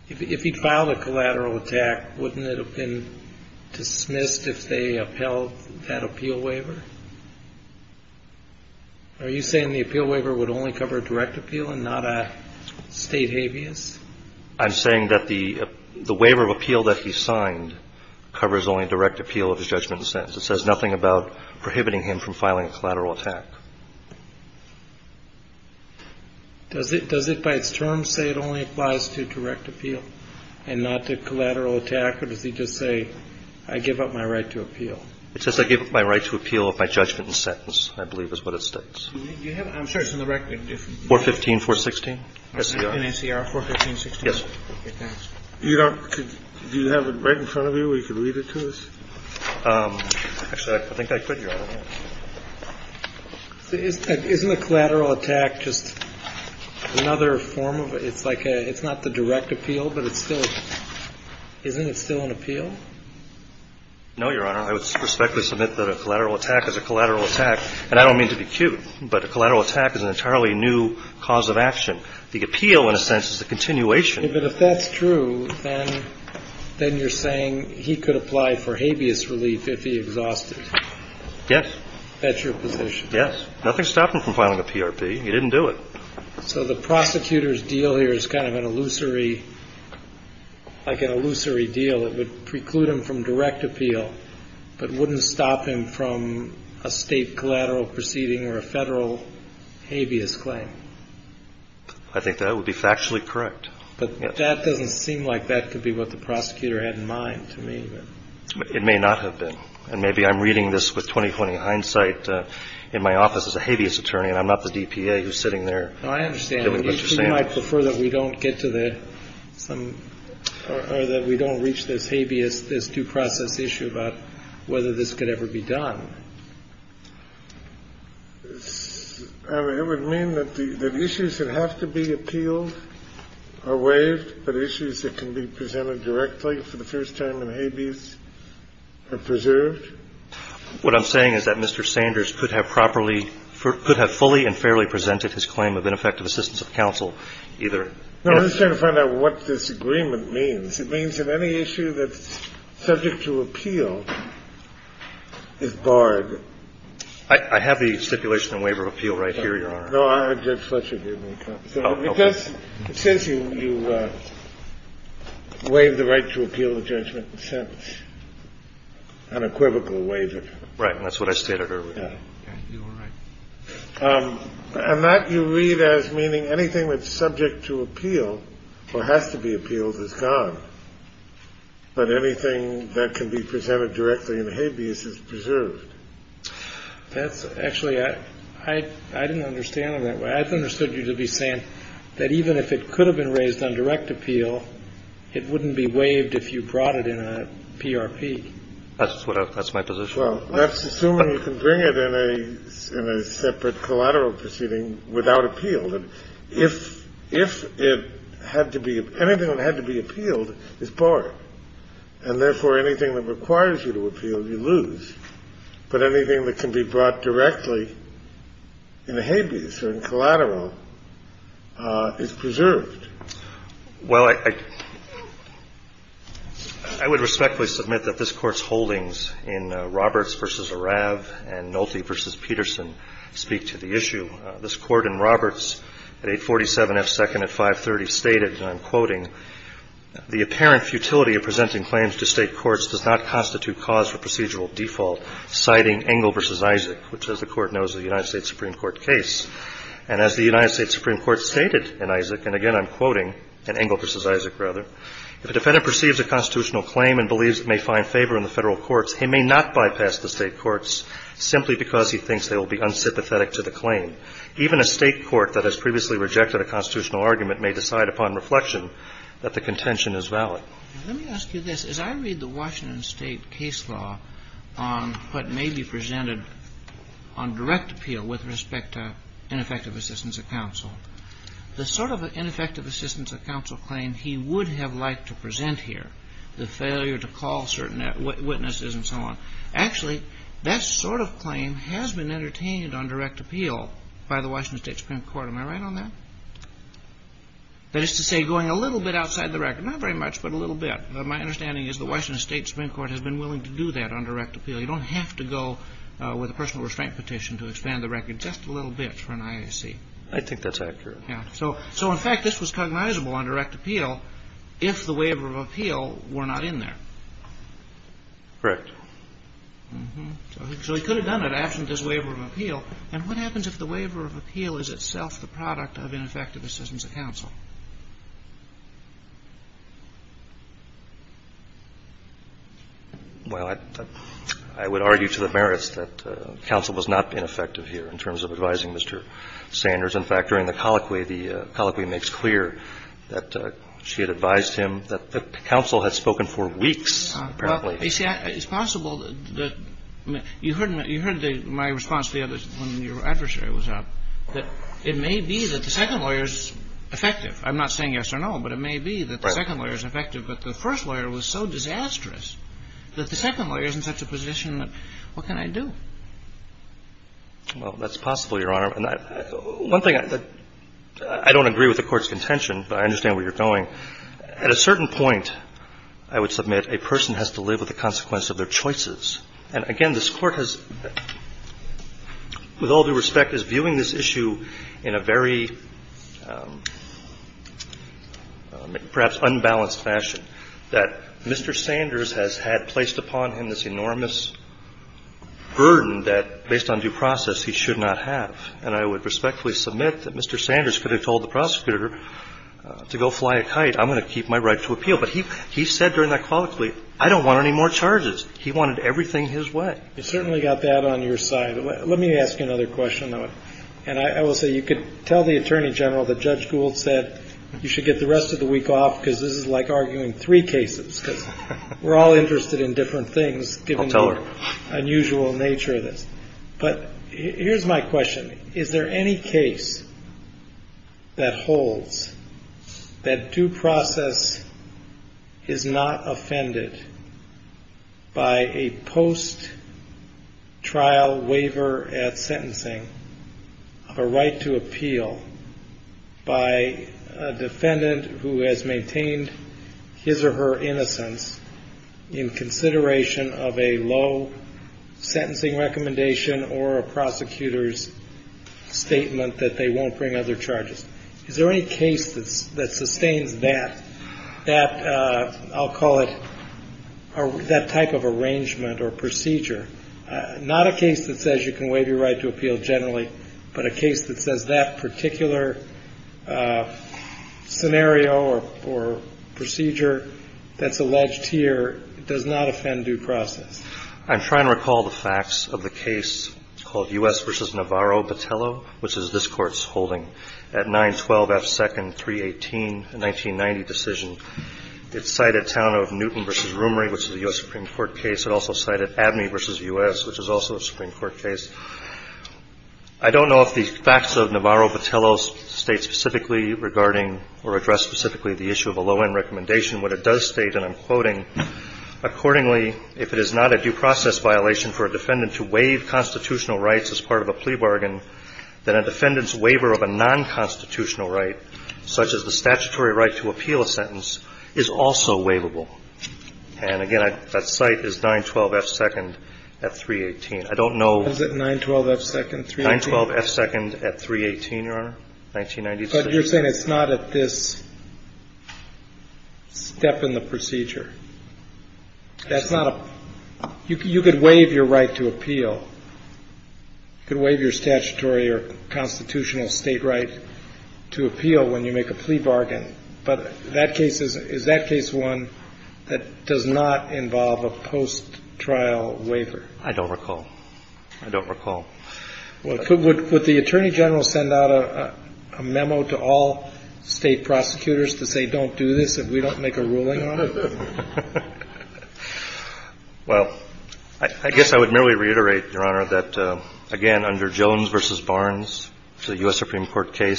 If he filed a collateral attack, wouldn't it have been dismissed if they upheld that appeal waiver? Are you saying the appeal waiver would only cover direct appeal and not state habeas? I'm saying that the waiver of appeal that he signed covers only direct appeal of his judgment and sentence. It says nothing about prohibiting him from filing a collateral attack. Does it by its terms say it only applies to direct appeal and not to collateral attack, or does it say I give up my right to appeal? It says I give up my right to appeal. I'm sure it's in the record. 415, 416. Do you have it right in front of you where you can read it to us? Isn't a collateral attack just another form of it's not the direct appeal, but isn't it still an appeal? No, Your Honor. I would respectfully submit that a collateral attack is a collateral attack, and I don't mean to be cute, but a collateral attack is an entirely new cause of action. The appeal in a case like this is a continuation. If that's true, then you're saying he could apply for habeas relief if he exhausted it? Yes. That's your position? Yes. Nothing stopped him from filing a PRP. He didn't do it. So the prosecutor's deal here is kind of an illusory deal. It would preclude him from direct appeal, but wouldn't stop him from a state collateral proceeding or a federal habeas claim. I think that would be factually correct. But that doesn't seem like that could be what the prosecutor had in mind. It may not have been. Maybe I'm asking a but I'm not sure that we don't reach this habeas two-process issue about whether this could ever be done. It would mean that issues that have to be appealed are waived, but issues that can be presented directly for the first time in habeas are preserved? What I'm trying to find out is what this agreement means. It means if any issue that's subject to appeal is barred... I have the stipulation on waiver appeal right here, Your Honor. No, I have Judge Fletcher give me a copy. Okay. It says you waive the right to appeal the judgment and sentence on a equivocal waiver. Right. That's what I stated earlier. And that you read as meaning anything that's subject to appeal or has to be appealed is gone. But anything that can be presented directly in habeas is preserved. Actually, I didn't understand that. I understood you to be saying that even if it could have been raised on direct appeal, it wouldn't be waived if you brought it in a PRP. That's my position. Well, let's assume you can bring it in a separate collateral proceeding without appeal. Anything that had to be appealed is barred. And, therefore, anything that requires you to appeal, you lose. But anything that can be presented habeas is barred. Well, I would respectfully submit that this Court's holdings in Roberts v. Arav and Nolte v. Peterson speak to the issue. This Court in Roberts, 847 F. 2nd at 530, stated, and I'm quoting, the apparent futility of presenting claims to state courts does not constitute cause for procedural default, citing Engel v. Isaac, which, as the Court knows, is a United States Supreme Court case. And as the United States Supreme Court stated in Isaac, and, again, I'm quoting Engel v. Isaac, rather, the defendant perceives a constitutional claim and a state case law on what may be presented on direct appeal with respect to ineffective assistance of counsel. The sort of ineffective assistance of counsel claim he would have liked to present here, the failure to call certain witnesses and so on, actually, that sort of claim has been entertained on direct appeal by the Washington State Supreme Court. Am I right on that? That is to say, going a little bit outside the record. Not very much, but a little bit. My understanding is the Washington Supreme Court has been willing to do that on direct appeal. You don't have to go with a personal restraint petition to expand the record just a little bit for an IAC. In fact, this was cognizable on direct appeal if the waiver of appeal were not in there. So he could have done it absent his waiver of appeal. What happens if the waiver of appeal is itself the reason for waiver of appeal? I realize that counsel has not been effective here in terms of advising Mr. Sanders. In fact, during the colloquy, the colloquy makes clear that she advised him that the counsel had spoken for weeks. You heard my response when your adversary was up. It may be that the second lawyer is effective. I'm not saying yes or no, but it may be that the second lawyer is effective, but the first lawyer was so disastrous that the second lawyer is in such a position that what can I do? I don't agree with the court's contention, but I understand where you're going. At a certain point, I would submit a person has to live with the consequences of their choices. Again, this court has, with all due respect, is viewing this issue in a very perhaps unbalanced fashion, that Mr. Sanders could have told the prosecutor to go fly a kite. He said I don't want any more charges. He wanted everything his way. You can tell the Attorney General that Judge Gould said you should get the rest of the week off. We're all interested in different things, given the unusual nature of this. Here's my question. Is there any case that holds that due process is not offended by a post-trial waiver at sentencing, a right to appeal, by a defendant who has maintained his or her innocence in consideration of a low sentencing recommendation or a prosecutor's statement that they won't bring other charges? Is there any case that sustains that type of arrangement or procedure? Not a case that says you can waive your right to appeal generally, but a case that says that particular scenario or procedure that's alleged here does not offend due process? I'm trying to recall the facts of the case called U.S. v. Navarro-Batello, which is this court's at 912 F 2nd, 318, a 1990 decision. It cited town of Newton v. Roomery, which is a U.S. Supreme case. It does state specifically regarding or address specifically the issue of a low-end recommendation. What it does state, and I'm quoting, accordingly, if it is not a due process violation for a defendant to waive constitutional rights as part of a plea bargain, that a defendant's right to post-trial waiver. But you're saying it's not at this step in the procedure. You could waive your right to appeal. You could waive your statutory or constitutional state rights to appeal when you make a plea bargain. But is that case one that does not involve a involve a plea bargain? Or does it apply to all state prosecutors that they don't do this if we don't make a ruling? Well, I guess I would merely reiterate that again under Jones v. Barnes, a U.S. Supreme Court ruling,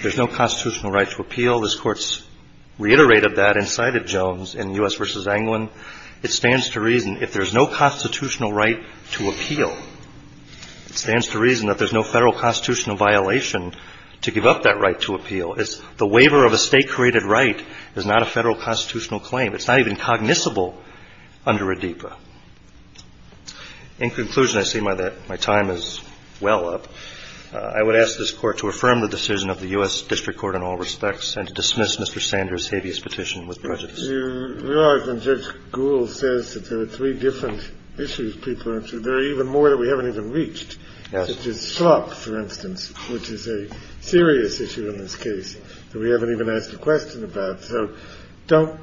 the waiver of a state created right is not a federal constitutional claim. It's not even cognizable under a DEPA. In conclusion, I see my time is well up. I would ask this court to affirm the decision of the U.S. Court on this case. We haven't even asked a question about it. So don't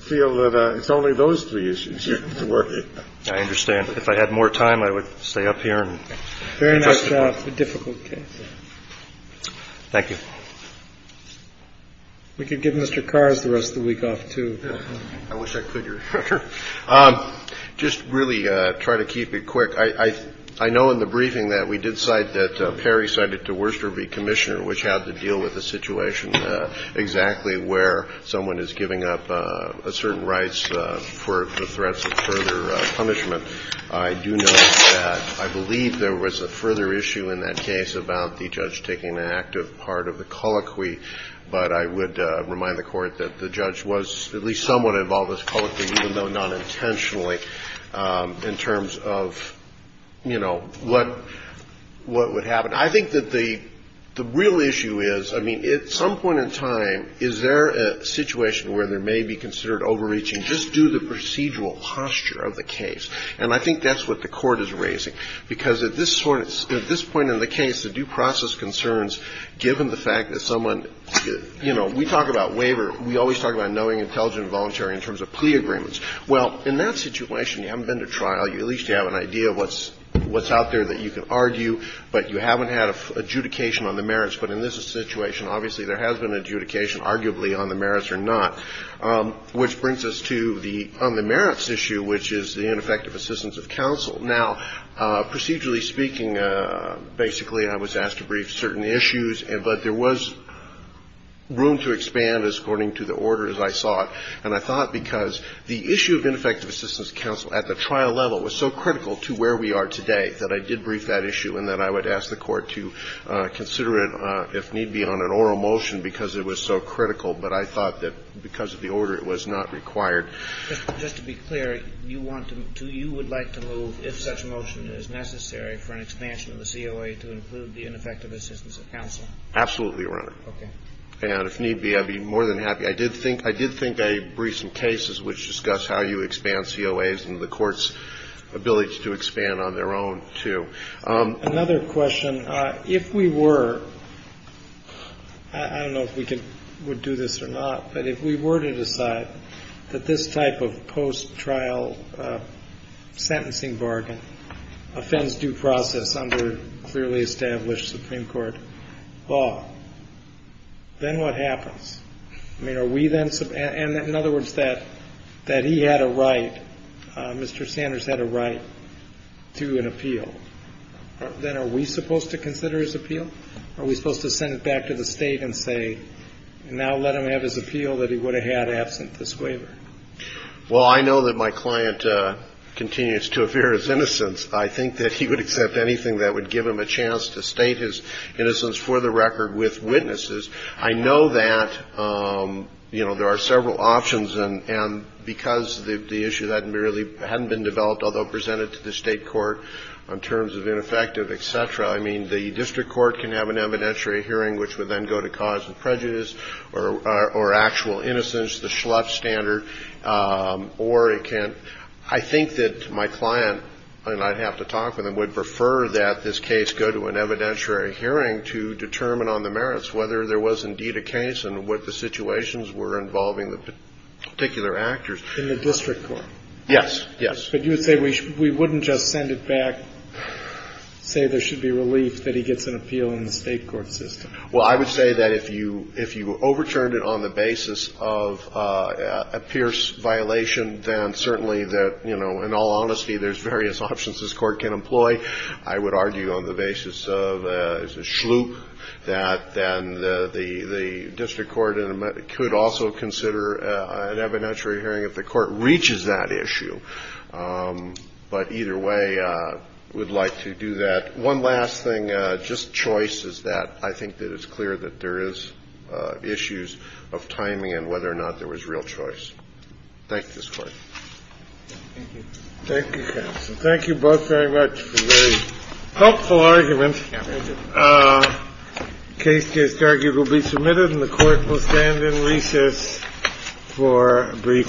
feel that it's only those three issues. I understand. If I had more time, I would stay up here. Thank you. We could give Mr. Worcester a chance to respond. I believe there was a further issue in that case about the judge taking an active part of the colloquy, but I would remind the court that the judge was at least somewhat involved even though not intentionally in terms of what would have happened. The real issue is, at some point in time, is there a situation where there may be considered overreaching? Just do the procedural posture of the case. I think that's what the court is raising. At this point in the case, the due process concerns, given the fact that someone has misdemeanor crimes, and we talk about knowing intelligent and voluntary in terms of plea agreements. In that situation, you haven't been to trial, but you haven't had adjudication on the merits. In this situation, there has not been adjudication on the merits or not. Which brings us to the merits issue, which is ineffective assistance of counsel. Procedurally speaking, I was asked to brief certain issues, but there was room to expand according to the order as I saw it. The issue of ineffective assistance of counsel at the trial level was so critical to where we are today that I did brief that issue. I would ask the court to consider it on an oral motion because it was so critical, but I thought because of the order it was not required. Just to be clear, you would like to move if such a motion is necessary to include ineffective assistance of counsel? Absolutely, Your Honor. I did think I briefed some cases which discussed how you expand COAs and the court's ability to expand on their own too. Another question, if we were, I don't know if we would do this or not, but if we were to decide this type of post-trial sentencing bargain offends due process under clearly established Supreme Court law, then what happens? In other words, that he had a right, Mr. Sanders had a right to an appeal. Then are we supposed to consider his appeal? Are we supposed to send it back to the state and say now let him have his appeal that he would have had absent this waiver? Well, I know that my client continues to appear as innocent. I think that he would accept anything that would give him a chance to state his innocence for the record with witnesses. I know that there are several options, and because the issue hadn't been developed, although presented to the state court in terms of ineffective, the district court can have an evidentiary hearing, or actual innocence, the standard, or it can't. I think that my client would prefer that this case go to an evidentiary hearing to determine on the merits whether there was indeed a case and what the situations were involving the particular actors. In the district court? Yes. Yes. But you would say we wouldn't just send it back and say there should be relief that he gets an appeal in the state court system? Well, I would say that if you overturned it on the basis of a Pierce violation, then certainly in all honesty, there's various options this court can employ. I would argue on the basis of a sloop, that then the district court could also consider an evidentiary hearing if the court reaches that issue. But either way, we'd like to do that. One last thing, just choice is that. I think it is clear that there is issues of timing and whether or not there was real choice. Thank you. Thank you, Thank you both very much for a very helpful argument. The case case case case case case case case case case case